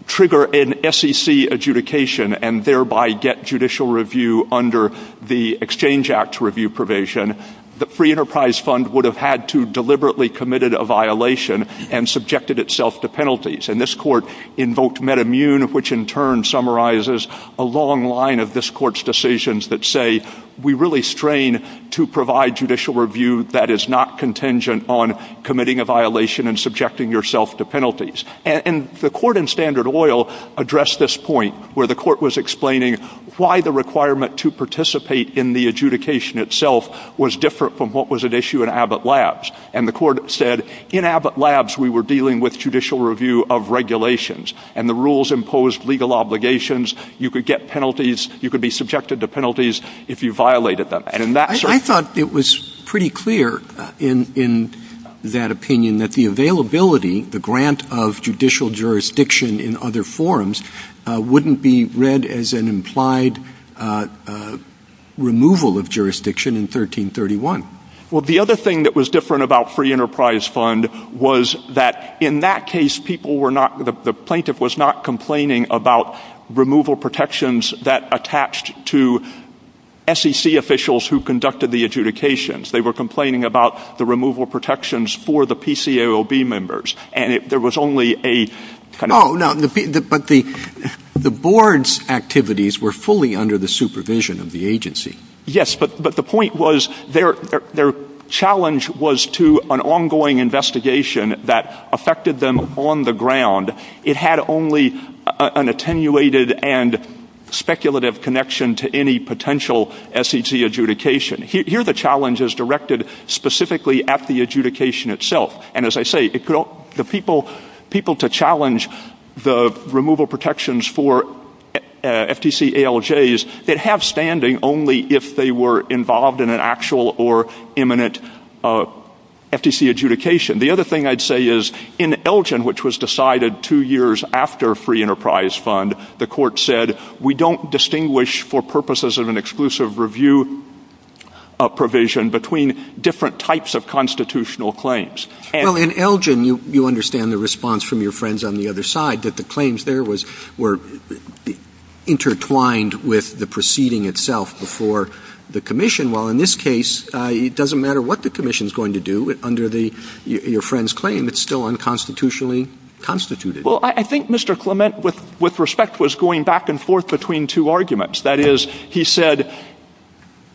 trigger an SEC adjudication and thereby get judicial review under the Exchange Act review provision, the free enterprise fund would have had to deliberately committed a violation and subjected itself to penalties. And this court invoked meta-immune which in turn summarizes a long line of this court's decisions that say we really strain to provide judicial review that is not contingent on committing a violation and subjecting yourself to penalties. And the court in Standard Oil addressed this point where the court was explaining why the requirement to participate in the adjudication itself was different from what was at issue in Abbott Labs. And the court said in Abbott Labs we were dealing with judicial review of regulations and the rules imposed legal obligations. You could get penalties. You could be subjected to penalties if you violated them. I thought it was pretty clear in that opinion that the availability, the grant of judicial jurisdiction in other forms wouldn't be read as an implied removal of jurisdiction in 1331. Well the other thing that was different about free enterprise fund was that in that case the plaintiff was not complaining about removal protections that attached to SEC officials who conducted the adjudications. They were complaining about the removal protections for the PCAOB members. And there was only a... But the board's activities were fully under the supervision of the agency. Yes, but the point was their challenge was to an ongoing investigation that affected them on the ground. It had only an attenuated and speculative connection to any potential SEC adjudication. Here the challenge is directed specifically at the adjudication itself. And as I say, the people to challenge the removal protections for FTC ALJs that have standing only if they were involved in an actual or imminent FTC adjudication. The other thing I'd say is in Elgin which was decided two years after free enterprise fund, the court said we don't distinguish for purposes of an exclusive review provision between different types of constitutional claims. In Elgin you understand the response from your friends on the other side that the claims there were intertwined with the proceeding itself before the commission. While in this case it doesn't matter what the commission is going to do under your friend's claim it's still unconstitutionally constituted. I think Mr. Clement with respect was going back and forth between two arguments. That is, he said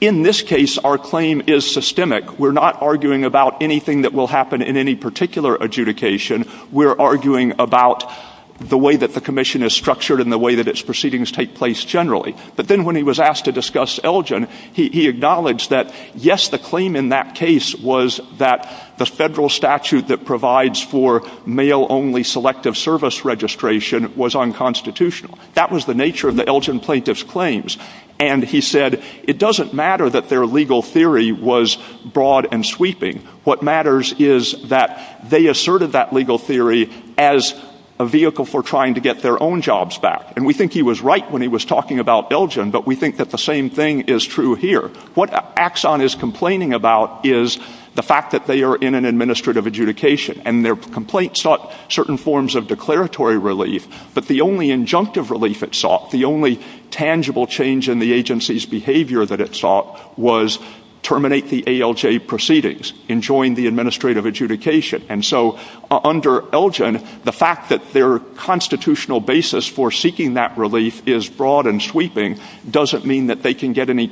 in this case our claim is systemic. We're not arguing about anything that will happen in any particular adjudication. We're arguing about the way that the commission is structured and the way that its proceedings take place generally. But then when he was asked to discuss Elgin he acknowledged that yes, the claim in that case was that the federal statute that provides for male only selective service registration was unconstitutional. That was the nature of the Elgin plaintiff's claims. And he said it doesn't matter that their legal theory was broad and sweeping. What matters is that they asserted that legal theory as a vehicle for trying to get their own jobs back. And we think he was right when he was talking about Elgin but we think that the same thing is true here. What Axon is complaining about is the fact that they are in an administrative adjudication and their complaint sought certain forms of declaratory relief but the only injunctive relief it sought the only tangible change in the agency's behavior that it sought was terminate the ALJ proceedings and join the administrative adjudication. And so under Elgin the fact that their constitutional basis for seeking that relief is broad and sweeping doesn't mean that they can get into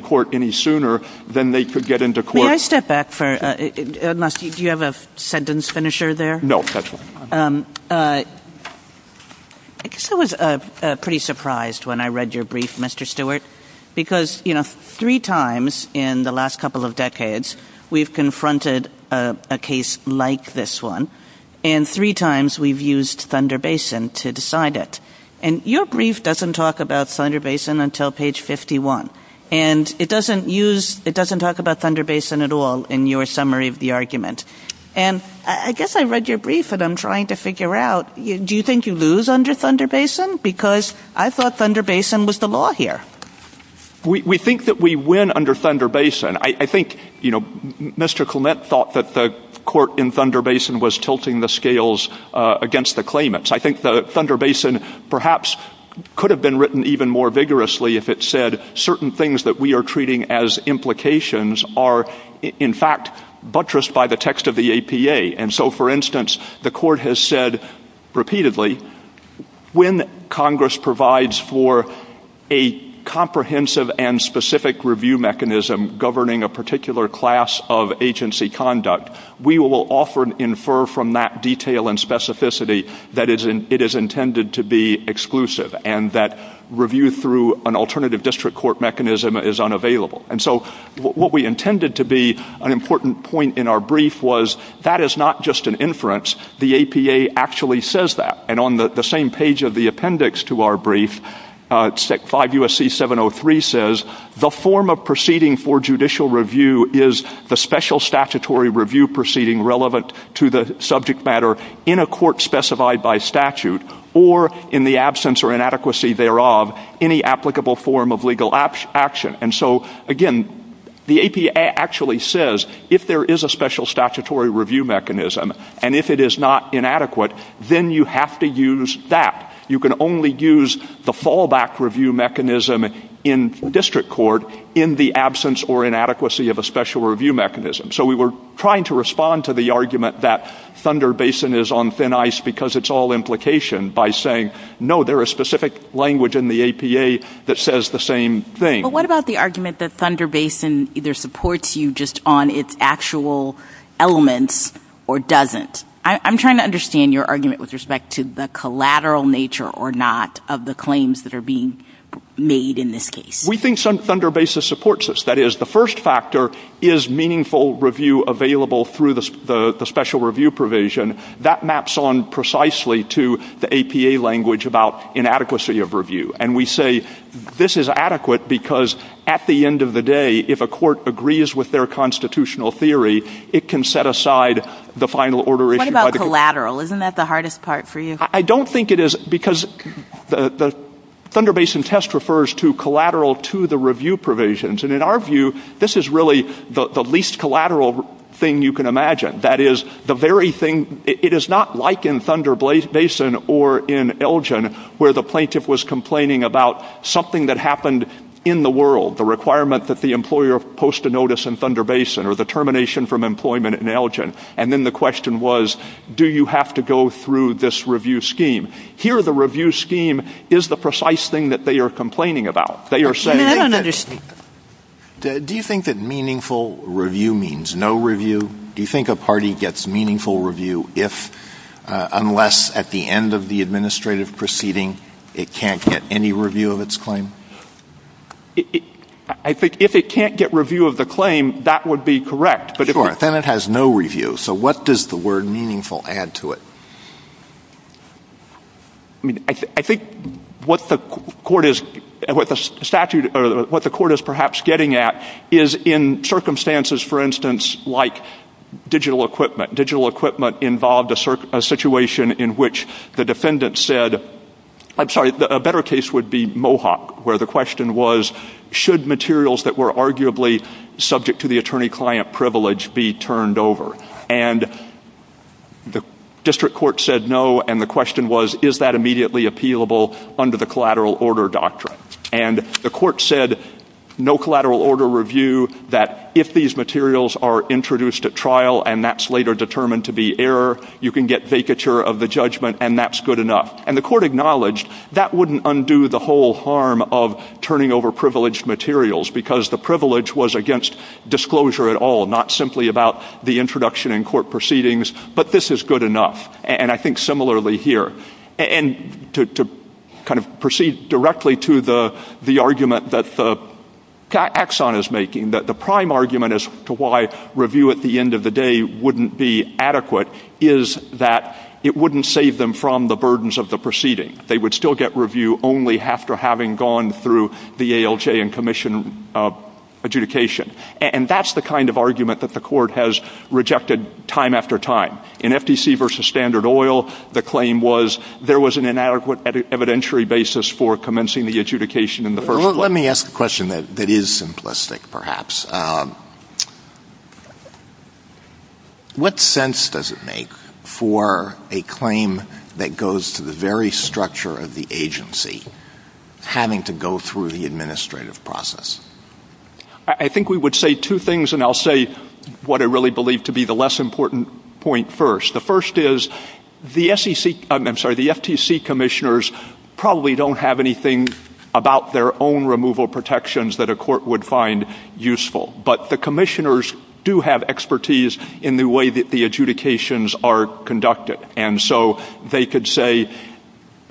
court any sooner than they could get into court... May I step back for a... do you have a sentence finisher there? No, that's fine. I guess I was pretty surprised when I read your brief, Mr. Stewart because, you know, three times in the last couple of decades we've confronted a case like this one and three times we've used Thunder Basin to decide it. And your brief doesn't talk about Thunder Basin until page 51 and it doesn't use... it doesn't talk about Thunder Basin at all in your summary of the argument. And I guess I read your brief and I'm trying to figure out do you think you lose under Thunder Basin? Because I thought Thunder Basin was the law here. We think that we win under Thunder Basin. I think, you know, Mr. Clement thought that the court in Thunder Basin was tilting the scales against the claimants. I think the Thunder Basin perhaps could have been written even more vigorously if it said certain things that we are treating as implications are in fact buttressed by the text of the APA. And so, for instance, the court has said repeatedly when Congress provides for a comprehensive and specific review mechanism governing a particular class of agency conduct, we will often infer from that detail and specificity that it is intended to be exclusive and that review through an alternative district court mechanism is unavailable. And so what we intended to be an important point in our brief was that is not just an inference. The APA actually says that and on the same page of the appendix to our brief, 5 U.S.C. 703 says, the form of proceeding for judicial review is the special statutory review proceeding relevant to the subject matter in a court specified by statute or in the absence or inadequacy thereof any applicable form of legal action. And so, again, the APA actually says if there is a special statutory review mechanism and if it is not inadequate, then you have to use that. You can only use the fallback review mechanism in district court in the absence or inadequacy of a special review mechanism. So we were trying to respond to the argument that Thunder Basin is on thin ice because it's all implication by saying, no, there is specific language in the APA that says the same thing. But what about the argument that Thunder Basin either supports you just on its actual elements or doesn't? I'm trying to understand your argument with respect to the collateral nature or not of the claims that are being made in this case. We think Thunder Basin supports us. That is, the first factor is meaningful review available through the special review provision. That maps on precisely to the APA language about inadequacy of review. And we say this is adequate because at the end of the day, if a court agrees with their constitutional theory, it can set aside the final order issue. What about collateral? Isn't that the hardest part for you? I don't think it is because the Thunder Basin test refers to collateral to the review provisions. And in our view, this is really the least collateral thing you can imagine. That is, the very thing, it is not like in Thunder Basin or in Elgin where the plaintiff was complaining about something that happened in the world, the requirement that the employer post a notice in Thunder Basin or the termination from employment in Elgin. And then the question was, do you have to go through this review scheme? Here, the review scheme is the precise thing that they are complaining about. They are saying... I don't understand. Do you think that meaningful review means no review? Do you think a party gets meaningful review if, unless at the end of the administrative proceeding, it can't get any review of its claim? I think if it can't get review of the claim, that would be correct. Sure. The defendant has no review, so what does the word meaningful add to it? I think what the court is perhaps getting at is in circumstances, for instance, like digital equipment. Digital equipment involved a situation in which the defendant said... I'm sorry, a better case would be Mohawk, where the question was, should materials that were arguably subject to the attorney-client privilege be turned over? And the district court said no, and the question was, is that immediately appealable under the collateral order doctrine? And the court said, no collateral order review, that if these materials are introduced at trial, and that's later determined to be error, you can get vacature of the judgment, and that's good enough. And the court acknowledged that wouldn't undo the whole harm of turning over privileged materials, because the privilege was against disclosure at all, not simply about the introduction in court proceedings, but this is good enough. And I think similarly here. And to kind of proceed directly to the argument that Axon is making, that the prime argument as to why review at the end of the day wouldn't be adequate is that it wouldn't save them from the burdens of the proceeding. They would still get review only after having gone through the ALJ and commission adjudication. And that's the kind of argument that the court has rejected time after time. In FTC versus Standard Oil, the claim was there was an inadequate evidentiary basis for commencing the adjudication in the first place. Let me ask a question that is simplistic, perhaps. What sense does it make for a claim that goes to the very structure of the agency having to go through the administrative process? I think we would say two things and I'll say what I really believe to be the less important point first. The first is the FTC commissioners probably don't have anything about their own removal protections that a court would find useful. But the commissioners do have expertise in the way that the adjudications are conducted. And so they could say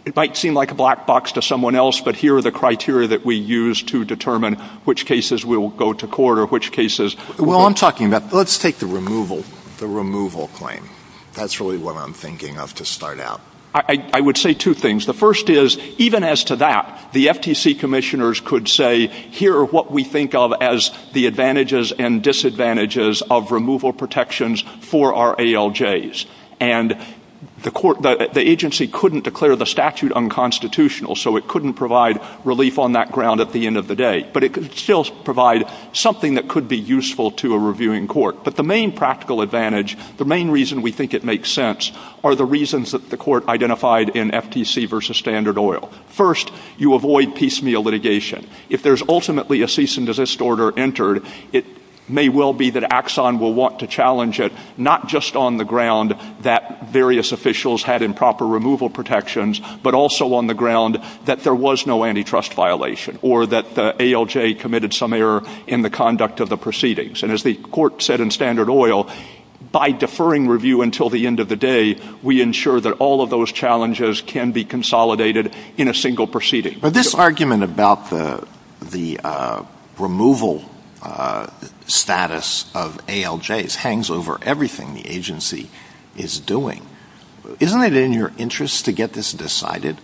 it might seem like a black box to someone else, but here are the criteria that we use to determine which cases will go to court or which cases Well, I'm talking about let's take the removal claim. That's really what I'm thinking of to start out. I would say two things. The first is even as to that, the FTC commissioners could say here are what we think of as the advantages and disadvantages of removal protections for our ALJs. And the agency couldn't declare the statute unconstitutional so it couldn't provide relief on that ground at the end of the day. But it could still provide something that could be useful to a reviewing court. But the main practical advantage, the main reason we think it makes sense are the reasons that the court identified in FTC v. Standard Oil. First, you avoid piecemeal litigation. If there's ultimately a cease and desist order entered, it may well be that Axon will want to challenge it not just on the ground that various officials had improper removal protections, but also on the ground that there was no antitrust violation or that ALJ committed some error in the conduct of the proceedings. And as the court said in Standard Oil, by deferring review until the end of the day, we ensure that all of those challenges can be consolidated in a single proceeding. But this argument about the removal status of ALJs hangs over everything the agency is doing. Isn't it in your interest to get this decided?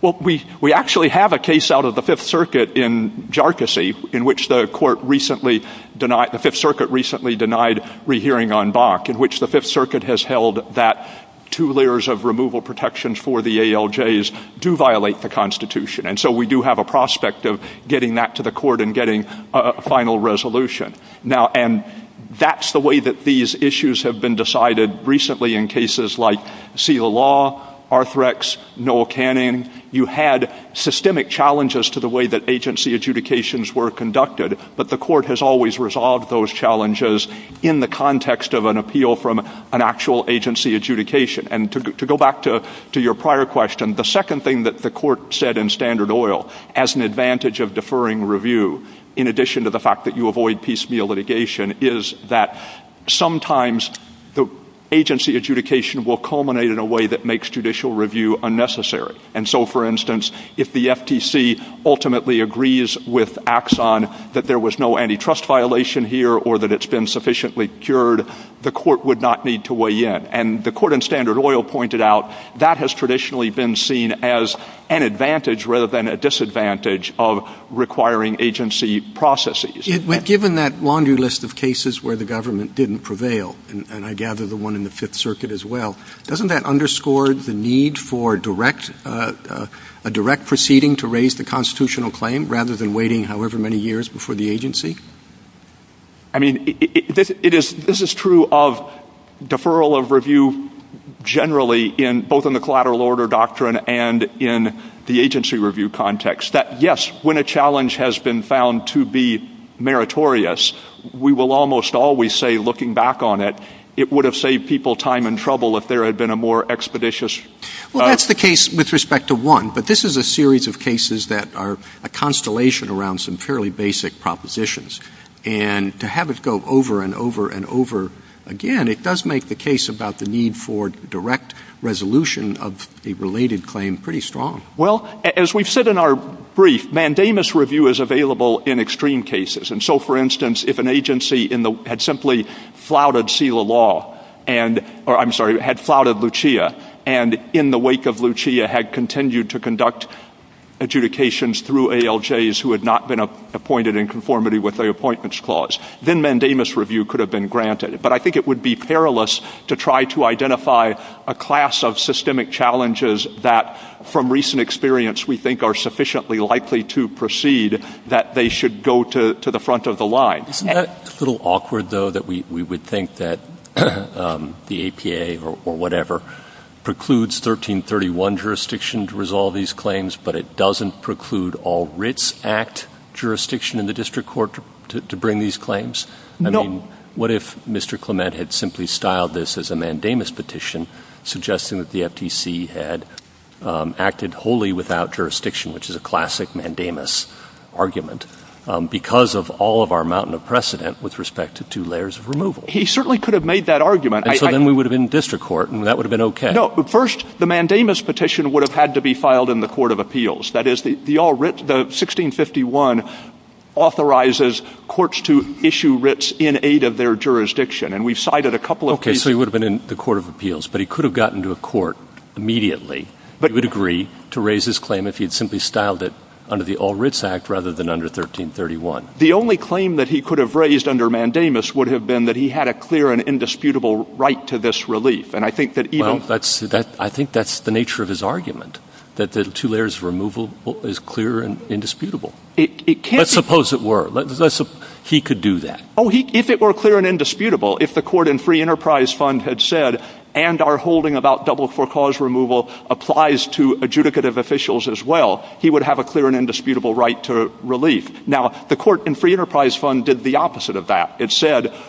Well, we actually have a case out of the Fifth Circuit in Jharkhasi, in which the court recently denied, the Fifth Circuit recently denied rehearing on Bach, in which the Fifth Circuit has held that two layers of removal protections for the ALJs do violate the Constitution. And so we do have a prospect of getting that to the court and getting a final resolution. Now, and that's the way that these issues have been decided recently in cases like Seelah Law, Arthrex, Noel Cannon. You had systemic challenges to the way that agency adjudications were conducted, but the court has always resolved those challenges in the context of an appeal from an actual agency adjudication. And to go back to your prior question, the second thing that the court said in Standard Oil as an advantage of deferring review, in addition to the fact that you avoid piecemeal litigation, is that sometimes the agency adjudication will culminate in a way that makes judicial review unnecessary. And so, for instance, if the FTC ultimately agrees with Axon that there was no antitrust violation here or that it's been sufficiently cured, the court would not need to weigh in. And the court in Standard Oil pointed out that has traditionally been seen as an advantage rather than a disadvantage of requiring agency processes. Given that laundry list of cases where the government didn't prevail, and I gather the one in the Fifth Circuit as well, doesn't that underscore the need for direct, a direct proceeding to raise the constitutional claim rather than waiting however many years before the agency? I mean, this is true of deferral of review generally in both in the collateral order doctrine and in the agency review context that, yes, when a challenge has been found to be meritorious, we will almost always say looking back on it, it would have saved people time and trouble if there had been a more expeditious... Well, that's the case with respect to one, but this is a series of cases that are a constellation around some fairly basic propositions. And to have it go over and over and over again, it does make the case about the need for direct resolution of the related claim pretty strong. Well, as we've said in our brief, mandamus review is available in extreme cases. And so, for instance, if an agency had simply flouted SELA law, or, I'm sorry, had flouted Lucia, and in the wake of Lucia, had continued to conduct adjudications through ALJs who had not been appointed in conformity with the appointments clause, then mandamus review could have been granted. But I think it would be perilous to try to identify a class of systemic challenges that, from recent experience, we think are sufficiently likely to proceed that they should go to the front of the line. Isn't that a little awkward, that we would think that the APA or whatever precludes 1331 jurisdiction to resolve these claims, but it doesn't preclude all writs act jurisdiction in the district court to bring these claims? I mean, what if Mr. Clement had simply styled this as a mandamus petition, suggesting that the FTC had acted wholly without jurisdiction, which is a classic mandamus argument, because of all of our mountain of precedent with respect to two layers of removal? He certainly could have made that argument. And so then we would have been district court, and that would have been okay. No, but first, the mandamus petition would have had to be filed in the court of appeals. That is, the 1651 authorizes courts to issue writs in aid of their jurisdiction, and we've cited a couple of these. Okay, so he would have been in the court of appeals, but he could have gotten to a court immediately to the degree to raise his claim if he had simply styled it under the All Writs Act rather than under 1331. The only claim that he could have raised under mandamus would have been that he had a clear and indisputable right to this relief, and I think that even... Well, I think that's the nature of his argument, that the two layers of removal is clear and indisputable. It can't be... Let's suppose it were. He could do that. Oh, if it were clear and indisputable, if the court in Free Enterprise Fund had said, and our holding about double-for-clause removal applies to adjudicative officials as well, he would have a clear and indisputable right to relief. Now, the court in Free Enterprise Fund did the opposite of that.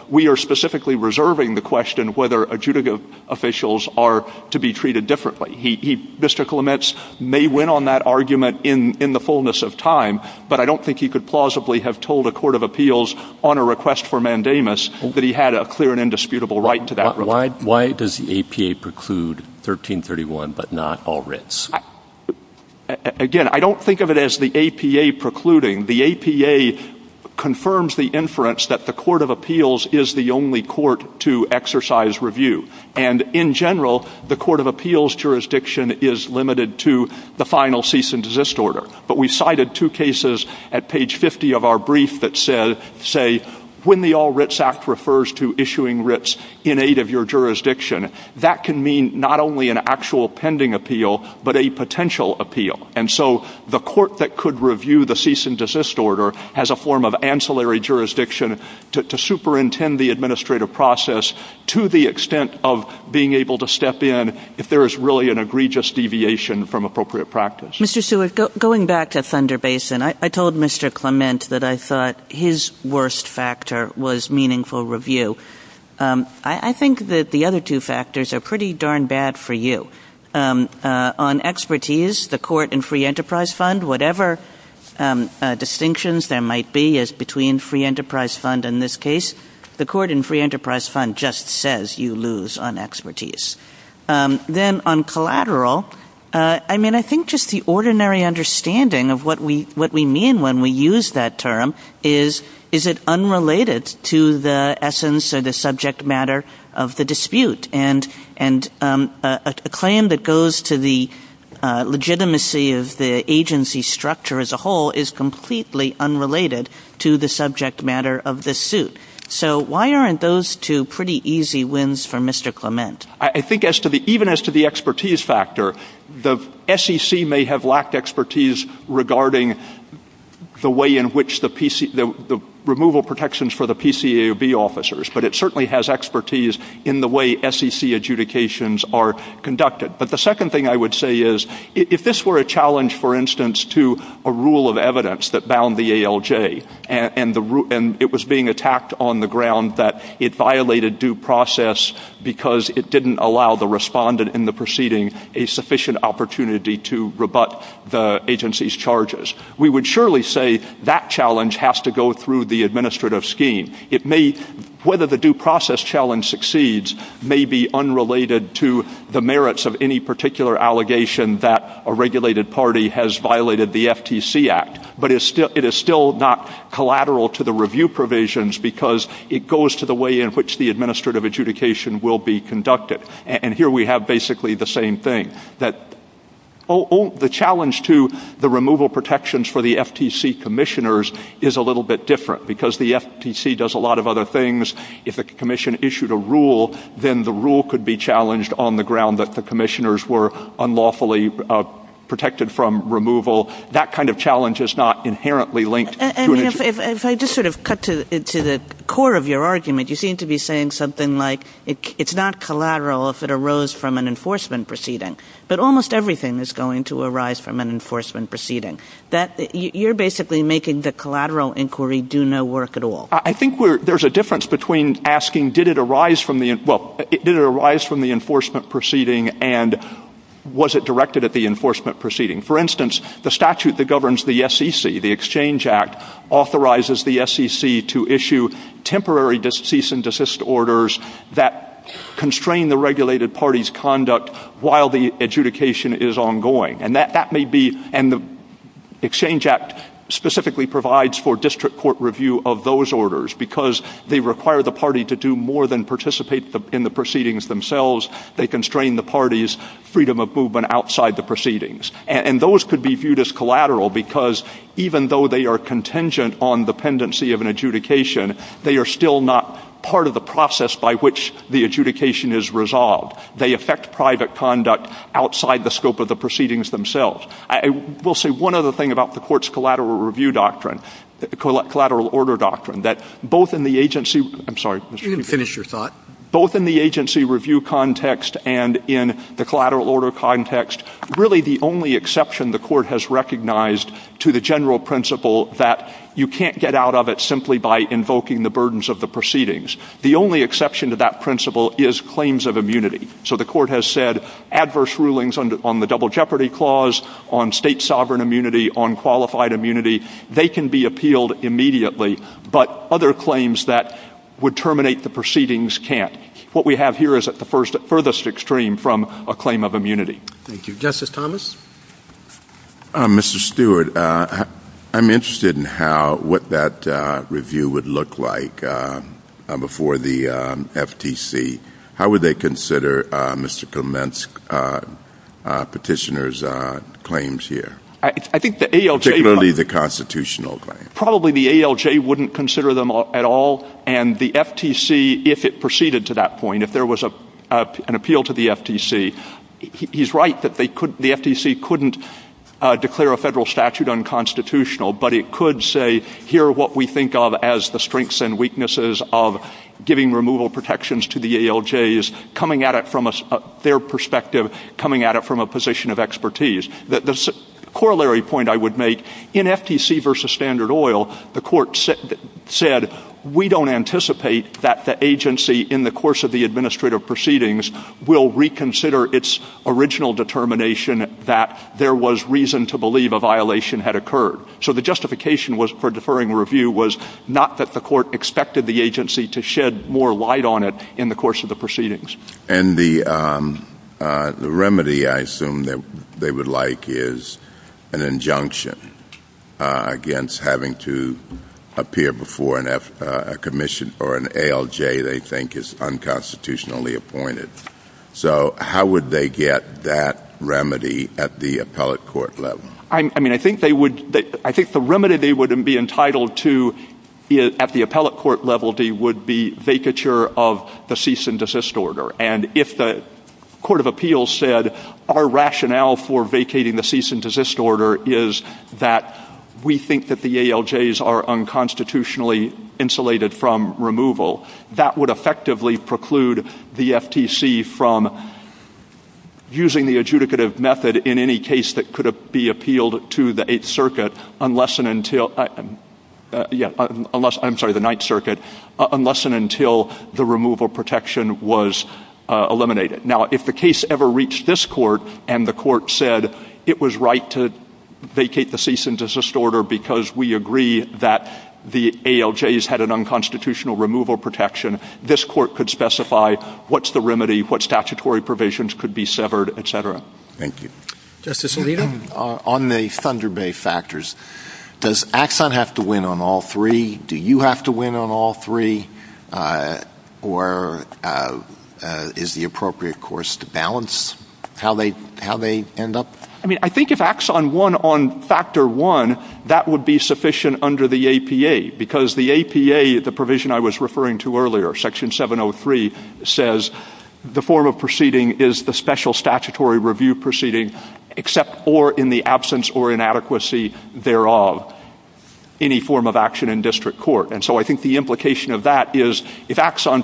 we are specifically reserving the question whether adjudicative officials are to be treated differently. He... Mr. Clements may win on that argument in the fullness of time, but I don't think he could plausibly have told a court of appeals on a request for mandamus that he had a clear and indisputable right to that relief. Why does the APA preclude 1331 but not All Writs? Again, I don't think of it as the APA precluding. The APA confirms the inference that the court of appeals is the only court to exercise review. And, in general, the court of appeals jurisdiction is limited to the final cease and desist order. But we cited two cases at page 50 of our brief that say when the All Writs Act refers to issuing writs in aid of your jurisdiction, that can mean not only an actual pending appeal, but a potential appeal. And so, the court that could review the cease and desist order has a form of ancillary jurisdiction to superintend the administrative process to the extent of being able to step in if there is really an egregious deviation from appropriate practice. Mr. Seward, going back to Thunder Basin, I told Mr. Clement that I thought his worst factor was meaningful review. I think that the other two factors are pretty darn bad for you. On expertise, the court and free enterprise fund, whatever distinctions there might be as between free enterprise fund and this case, the court and free enterprise fund just says you lose on expertise. Then, on collateral, I mean, I think just the ordinary understanding of what we mean when we use that term is, is it unrelated to the essence or the subject matter of the dispute. And a claim that goes to the of the agency structure as a whole is completely unrelated to the subject matter of the suit. So, why aren't those two pretty easy wins for Mr. Clement? I think as to the, even as to the expertise factor, the SEC may have lacked expertise regarding the way in which the PC, the removal protections for the PCAOB officers, but it rule of evidence that bound the ALJ, and it was being attacked on the ground that it violated due process because it didn't allow the respondent in the proceeding a sufficient opportunity to rebut the agency's charges. We would surely say that challenge has to go through the administrative scheme. It may, whether the due process challenge succeeds may be unrelated to the merits of any particular allegation that a regulated party has violated the FTC act, but it is still not collateral to the review provisions because it goes to the way in which the administrative adjudication will be conducted, and here we have basically the same thing. The challenge to the removal protections for the FTC commissioners is a little bit different because the FTC does a lot of other things. If the issued a then the rule could be challenged on the ground that the commissioners were unlawfully protected from removal, that kind of challenge is not inherently linked. If I cut to the core of your argument, you seem to be it is not collateral if it arose from an enforcement proceeding, but almost everything is going to arise from an enforcement proceeding. You are basically making the collateral inquiry do no work at all. I think there is a difference between asking did it arise from the enforcement proceeding and was it directed at the proceeding. For instance, the statute that governs the SEC, the exchange act authorizes the SEC to issue temporary cease and orders that constrain the regulated parties' conduct while the adjudication is ongoing. The exchange act specifically provides for district court review of those orders because they require the party to do more than participate in the proceedings themselves. They constrain the party's freedom of movement outside the proceedings. Those could be viewed as collateral because even though they are contingent on dependency of an adjudication, they are still not part of the process by which the adjudication is resolved. They affect private conduct outside the scope of the proceedings themselves. One other thing about the collateral order doctrine is that both in the agency review context and in the collateral order context, really the only exception the court has recognized to the general principle that you cannot get out of it simply by invoking the burdens of the proceedings. The only exception to that principle is claims of immunity. The court has said adverse rulings on the double jeopardy clause, state sovereign immunity, qualified immunity, they can be appealed immediately but other claims that would terminate the proceedings cannot. Justice Thomas? Mr. Stewart, I'm wondering comment on the petitioner's claims here. the constitutional claims. Probably the ALJ wouldn't consider them at all and the FTC, if it proceeded to that point, if there was an appeal to the FTC, he's right that the FTC couldn't declare a federal statute unconstitutional but it could say here are the strengths and of giving removal protections to the ALJs coming at it from a position of expertise. The corollary point I would make in FTC versus standard is we don't anticipate that the agency in the course of the administrative proceedings will reconsider its original determination that there was reason to believe a violation had occurred. So the justification for deferring review was not that the court expected the agency to shed more light on it. The remedy I assume they would like is an injunction against having to appear before a commission or an ALJ they think is unconstitutionally appointed. So how would they get that remedy at the appellate court level? I think the remedy they would be entitled to at the appellate court level would be vacature of the cease and desist order. If the court of appeals said our rationale for vacating the cease and desist order is that we think the ALJs are unconstitutionally insulated from removal, that would effectively preclude the FTC from using the adjudicative method in any case that could be appealed to the 8th unless and until the removal protection was eliminated. If the case ever reached this court and the court said it was right to vacate the cease and desist order because we agree that the ALJs had an unconstitutional removal protection, this court could specify what statutory provisions could be severed, et cetera. Justice Alito, on the Thunder Bay factors, does Axon have to win on all three, do you have to win on all three? If Axon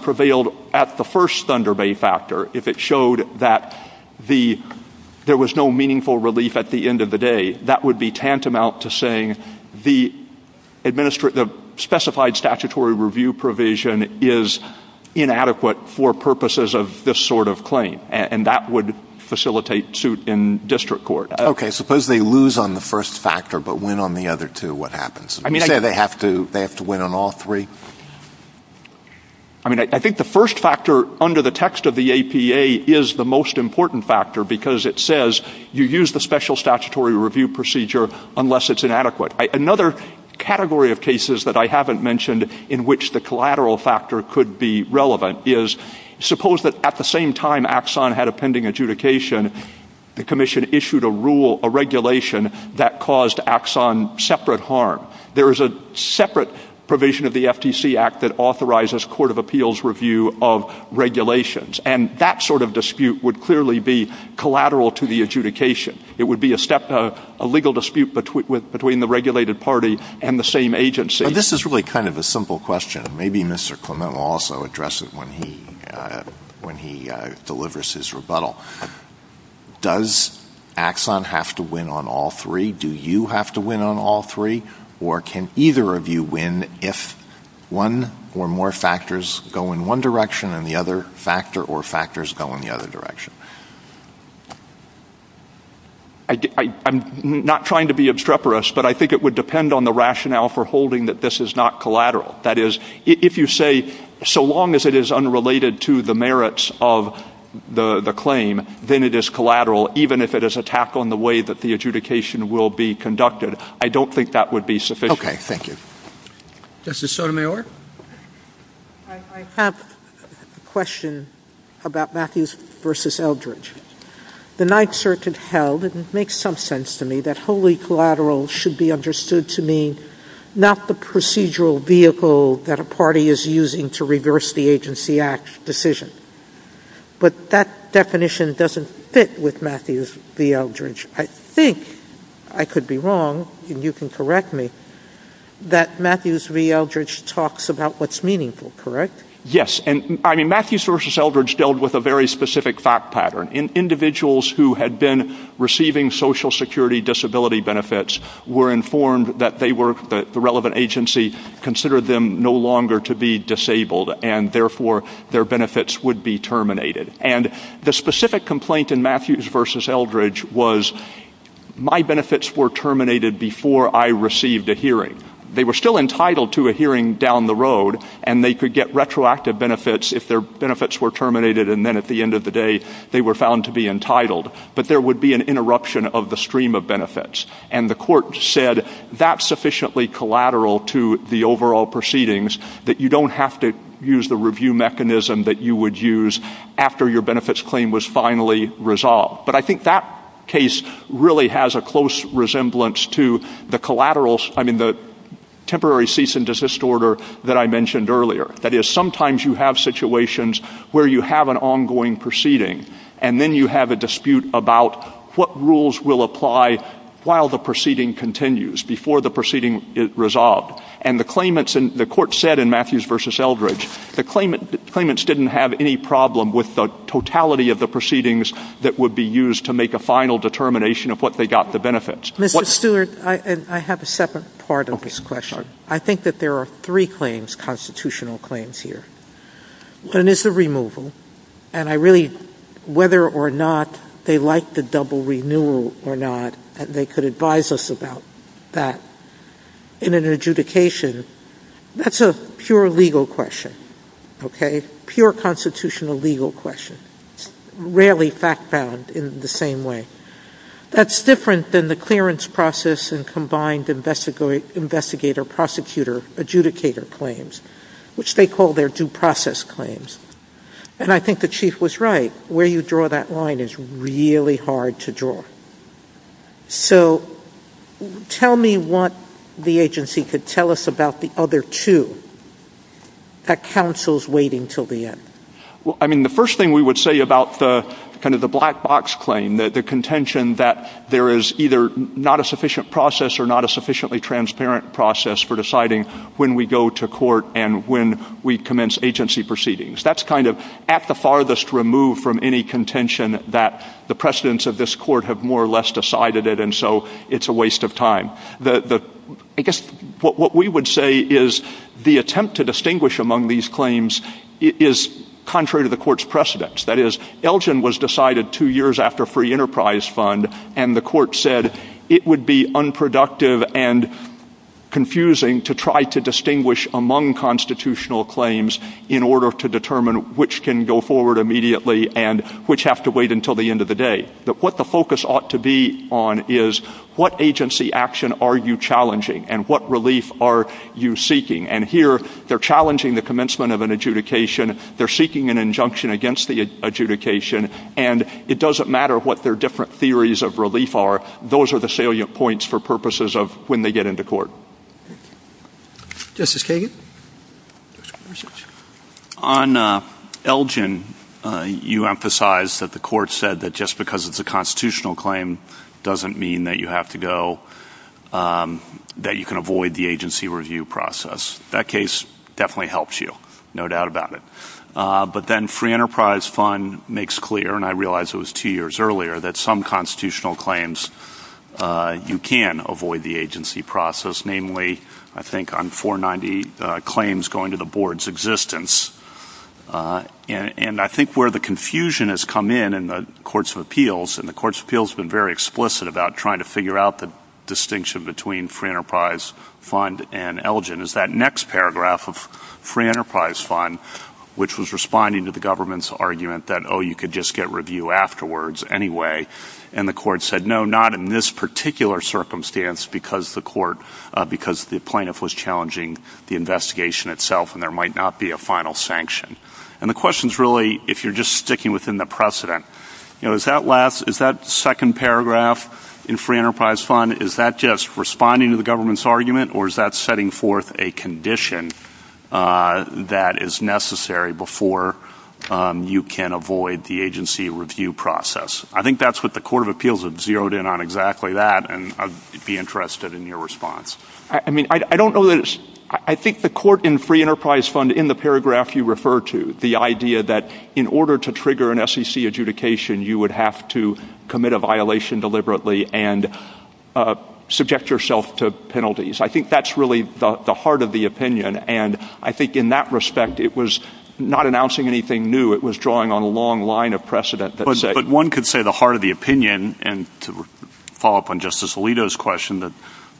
prevailed at the first Thunder factor, if it showed that there was no meaningful relief at the end of the day, that would be tantamount to saying the specified statutory review provision is inadequate for purposes of this sort of claim and that would facilitate suit in court. Suppose they lose on the first factor but win on the other two, what happens? Do they have to win on all three? I think the first factor under the text of the APA is the most important factor because it says you use the special statutory review procedure unless it inadequate. Another category of cases I haven't mentioned in which the collateral factor could be relevant is suppose that at the same time Axon had a pending adjudication, the commission issued a regulation that caused Axon separate harm. There is a separate provision of the FTC act that court of appeals review of regulations and that sort of dispute would be collateral to the adjudication. It would be a legal dispute between the regulated party and the same agency. This is really kind of a simple question. Mr. Clement will address it when he delivers his rebuttal. Does Axon have to win on all three? Do you have to win on all three? Or do I'm not trying to be obstreperous, but I think it would depend on the rationale for holding that this is not collateral. If you say so long as it is unrelated to the merits of the claim, then it is collateral, even if it is not I don't think that would be sufficient. Mr. Sotomayor? I have a question about Matthews versus Eldridge. The night search held that should be understood to mean not the procedural vehicle that a party is using to reverse the agency act decision. But that definition doesn't fit with Matthews versus Eldridge. I think I could be wrong and you can correct me, that versus Eldridge dealt with a very specific fact pattern. Individuals who had been entitled security disability benefits were informed that the relevant agency considered them no longer to be disabled and therefore their benefits would be terminated. The specific complaint in Matthews versus Eldridge was my benefits were terminated before I received a They were still entitled to a hearing down the road and they could get retroactive benefits if they were terminated. But there would be an interruption of the stream of The court said that is sufficiently collateral to the overall proceedings that you don't have to use the review mechanism that you would use after your benefits claim was finally resolved. But I think that case really has a close resemblance to the collateral, the temporary cease and desist order that I mentioned earlier. Sometimes you have situations where you have an ongoing proceeding and then you have a dispute about what rules will apply while the proceeding continues, before the proceeding is The court said in Matthews v. Eldridge the claimants didn't have any problem with the totality of the proceedings that would be used to make a final determination of what they got the benefits. I have a second part of this whether or not they could advise us about that. In an adjudication, that is a pure legal question. Pure constitutional legal question. Rarely fact found in the same way. That is different than the clearance process and prosecutor claims, which they call their two process claims. I think the chief was right. Where you draw that line is really hard to draw. Tell me what the agency could tell us about the other two that counsel is waiting until the end. The first thing we would say about the black box claim, the contention that there is no proceedings. That is at the farthest removed from any contention that the precedents of this court have more or less decided it, so it is a waste of What we would say is the attempt to among these claims is contrary to the court's precedents. That is, Elgin was decided two years after free enterprise fund and the court said it would be unproductive and confusing to try to among constitutional claims in order to determine which can go forward immediately and which have to wait until the end of the day. What the focus ought to be on is what agency action are you challenging and what relief are you seeking. Here they are challenging the commencement of an adjudication, seeking an injunction against the adjudication, and it doesn't matter what their different theories of relief are, those are the salient points for purposes of when they get into court. On Elgin, you emphasized that the court said that just because it's a claim doesn't mean that you have to go, that you can avoid the agency review process. That case definitely helps you, no doubt about it. But then free enterprise fund makes clear, and I realize it was two years earlier, that some constitutional claims you can avoid the agency process, namely I think on 490 claims going to the board's existence. And I think where the confusion has come in in the courts of appeals, and the courts of appeals have been very explicit about trying to figure out the distinction between free enterprise fund and Elgin, is that next paragraph of free enterprise fund, which was responding to the government's argument that you could just get review afterwards anyway, and the court said no, not in this particular circumstance because the plaintiff was challenging the investigation itself and there might not be a final sanction. And the question is really, if you're just sticking within the precedent, is that second paragraph in free enterprise fund, is that just responding to the government's afterwards anyway, and the court said no, not in this particular circumstance final sanction. And the question is really, if you're just free enterprise fund, is that to the government's argument that you could just not in this announcing anything new, it was drawing on a long line of precedent. One could say the heart of the opinion and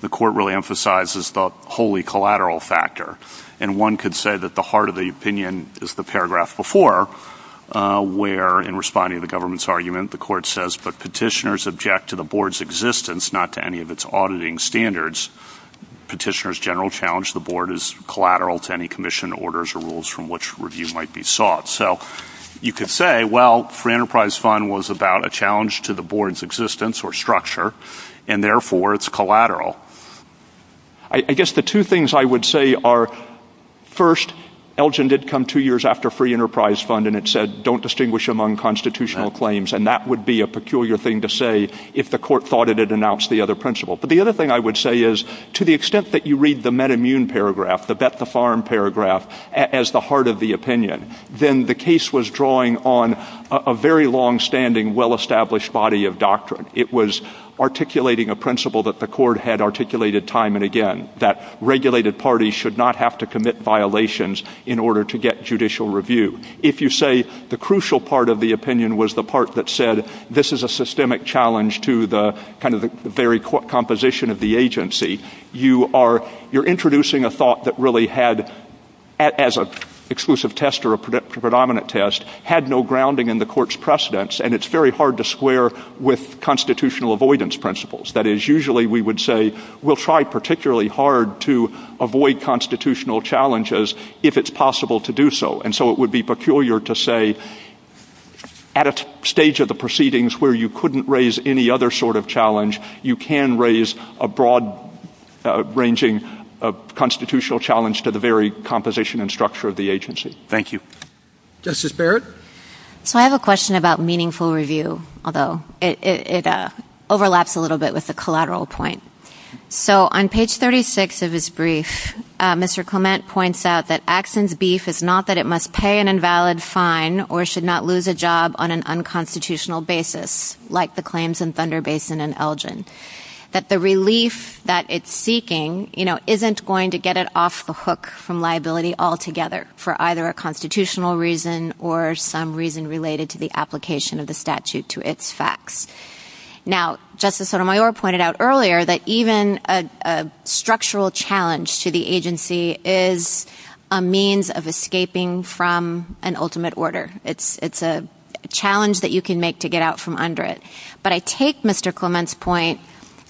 the court really emphasizes the holy collateral factor. And one could say that the heart of the opinion is the paragraph before where in responding to the government's argument the court says petitioners object to the board's existence not to any of its auditing standards. So you could say well, free enterprise fund was about a challenge to the board's existence or structure and therefore it is I guess the two things I would say are first Elgin did come two years after free enterprise fund and said don't distinguish among constitutional claims. The other thing I would say is to the extent that you read the paragraph as the heart of the opinion, then the case was drawing on a very longstanding well-established body of It was articulating a principle that the court had articulated time and again that regulated parties should not have to commit violations in order to get judicial review. If you say the crucial part of the opinion was the part that said this is a systemic challenge to the very composition of the agency, you are making a It is very hard to square with constitutional avoidance principles. We will try particularly hard to avoid constitutional challenges if it is possible to do so. It would be peculiar to say at a stage of the proceedings where you couldn't raise any other sort of challenge, you can raise a broad range of constitutional challenges to the very composition and structure of the agency. Thank you. Justice Barrett? I have a question about meaningful review. It overlaps a little bit with a collateral point. On page 36 of his brief, he points out that it is not that it must pay an invalid fine or should not lose a liability on a constitutional basis. The relief that it is seeking isn't going to get it off the hook from liability altogether for either a constitutional reason or some reason related to the application of the statute to its facts. Even a structural challenge to the agency is a means of escaping from an ultimate order. It is a challenge that you can make to get out from under it. But I take Mr. Clement's point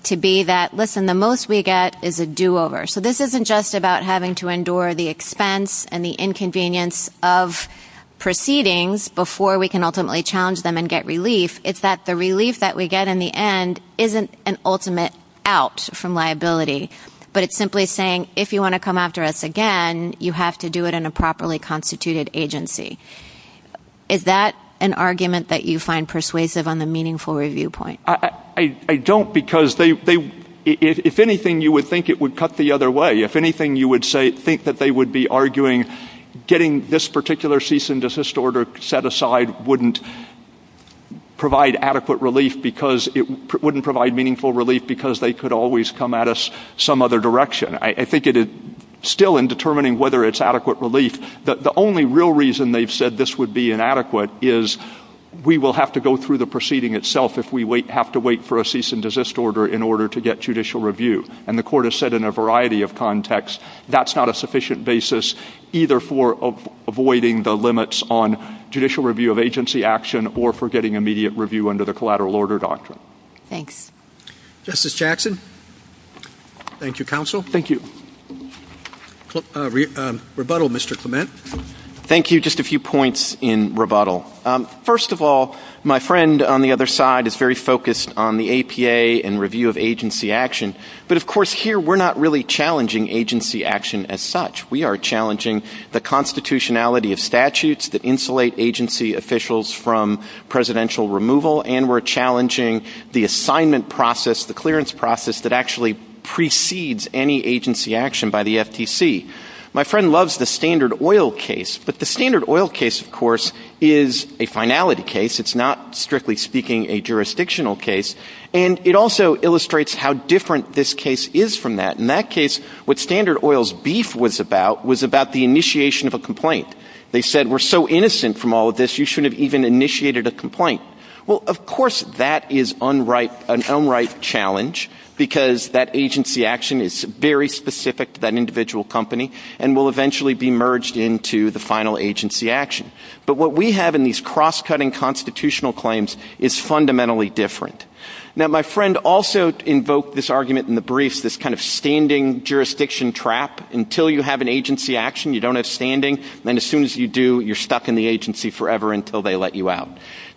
to be that the most we get is a do-over. This isn't just about having to endure the expense and the inconvenience of proceedings before we can ultimately challenge them and get relief. It is that the relief that we get in the end isn't an ultimate out from liability, but it is simply saying if you want to come after us again, you have to do it in a properly constituted agency. Is that an argument that you find persuasive on the meaningful review point? I don't because if anything you would think it would cut the other way. If anything you would think they would be arguing getting this particular cease and order set aside wouldn't provide adequate relief because they could always come at us some other direction. I think still in my only real reason they said this would be inadequate is we will have to go through the proceeding itself if we have to wait for a cease and order. That's not a sufficient basis either for avoiding the limits on judicial review or getting immediate review under the collateral order doctrine. Justice Jackson. Thank you counsel. Thank you. Rebuttal Mr. Thank you. Just a few points in rebuttal. First of all my friend on the other side is very focused on the review of action. We are challenging the constitutionality of statutes that insulate agency officials from presidential removal and we are challenging the assignment process that actually precedes any agency action by the FTC. My friend loves the standard oil case but the standard oil case is a finality case. It is not strictly speaking a jurisdictional case. It also illustrates how different this case is from that. In that case what standard oil's beef was about was initiation of a complaint. Of course that is an unright challenge because that agency action is very specific to that individual company and will eventually be merged into the final agency action. But what we have in these cross-cutting constitutional claims is fundamentally different. My friend also invoked this argument in the brief, this standing jurisdiction trap. Until you have an agency action you don't have standing. As soon as you do you are stuck in the jurisdiction.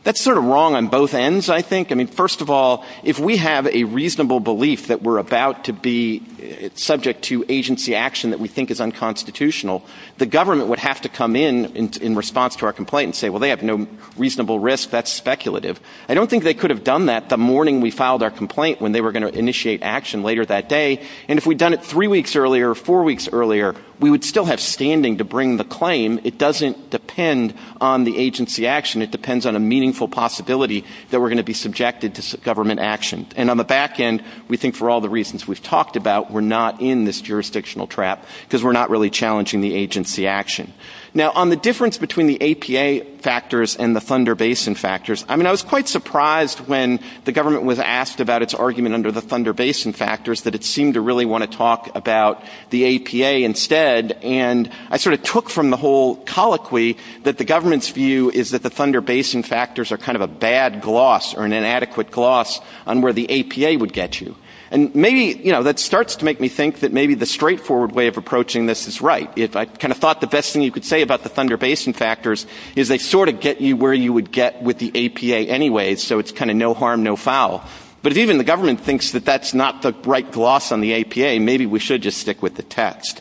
That is wrong on both ends. First of all if we have a reasonable belief that we are about to be subject to agency action we think is unconstitutional the government would have to come in and say they have no reasonable risk. I don't think they could have done that the morning they were going to be subject to government action. On the back end we think for all the reasons we have talked about we are not in this jurisdiction trap. On the difference between the APA factors and the Thunder Basin factors I was surprised when the government was asked about the Thunder Basin took from the whole colloquy that the government's view is that the Thunder Basin factors are an inadequate gloss on where the APA would get you. That starts to make me think the straightforward way of approaching this is right. I thought the best thing you could say about the Thunder Basin factors is they get you where you would get with the APA anyway. If the government thinks that is not the right gloss on the APA maybe we should stick with the text.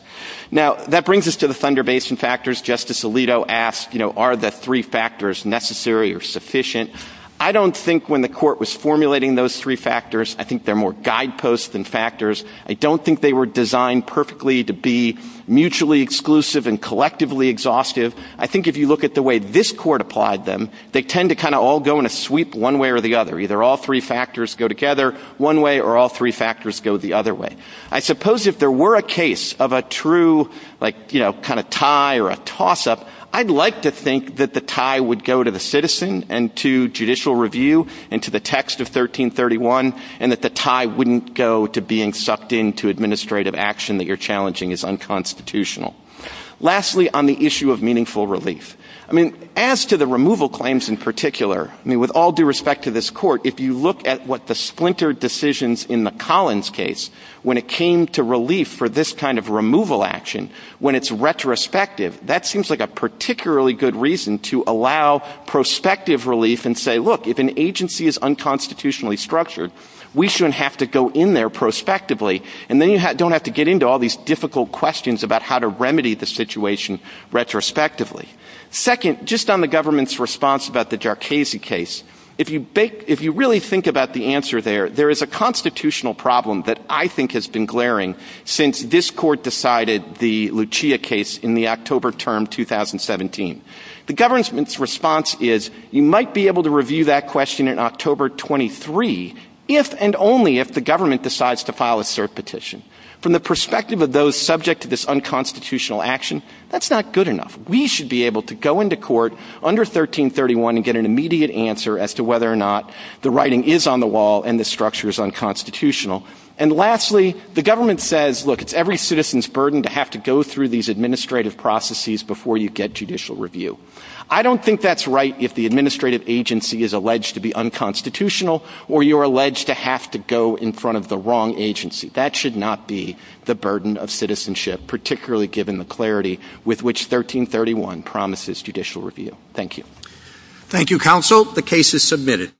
That brings us to the Thunder Basin designed to be mutually exclusive and collectively exhaustive. If you look at the way this court applied them they tend to sweep one way or the other. I suppose if there were a case of a true tie or toss-up I would like to think the tie would go to the citizen and not to judicial review. Lastly, issue of meaningful relief. As to the removal claims in particular, with all due respect to this court, if you look at what the splintered decisions in the Collins case when it came to relief for this kind of removal action when it is retrospective, that seems like a particularly good reason to allow prospective relief and say if an agency is unconstitutionally structured we shouldn't have to go in there prospectively and don't have to get into difficult questions about how to remedy the situation retrospectively. Second, on the government's response about the case, if you think about the answer there, there is a question in 2017. The government's response is you might be able to review that question in October 23 if and only if the government decides to file a cert petition. From the perspective of those subject to this unconstitutional action, that is not good enough. We should be able to go into court under 1331 and get an immediate answer as to whether or not the writing is on the wall and the structure is unconstitutional. Lastly, the government says it is every citizen's burden to have to go through these administrative processes before you get judicial review. I don't think that is right if the administrative agency is alleged to Thank you, counsel. The case is submitted.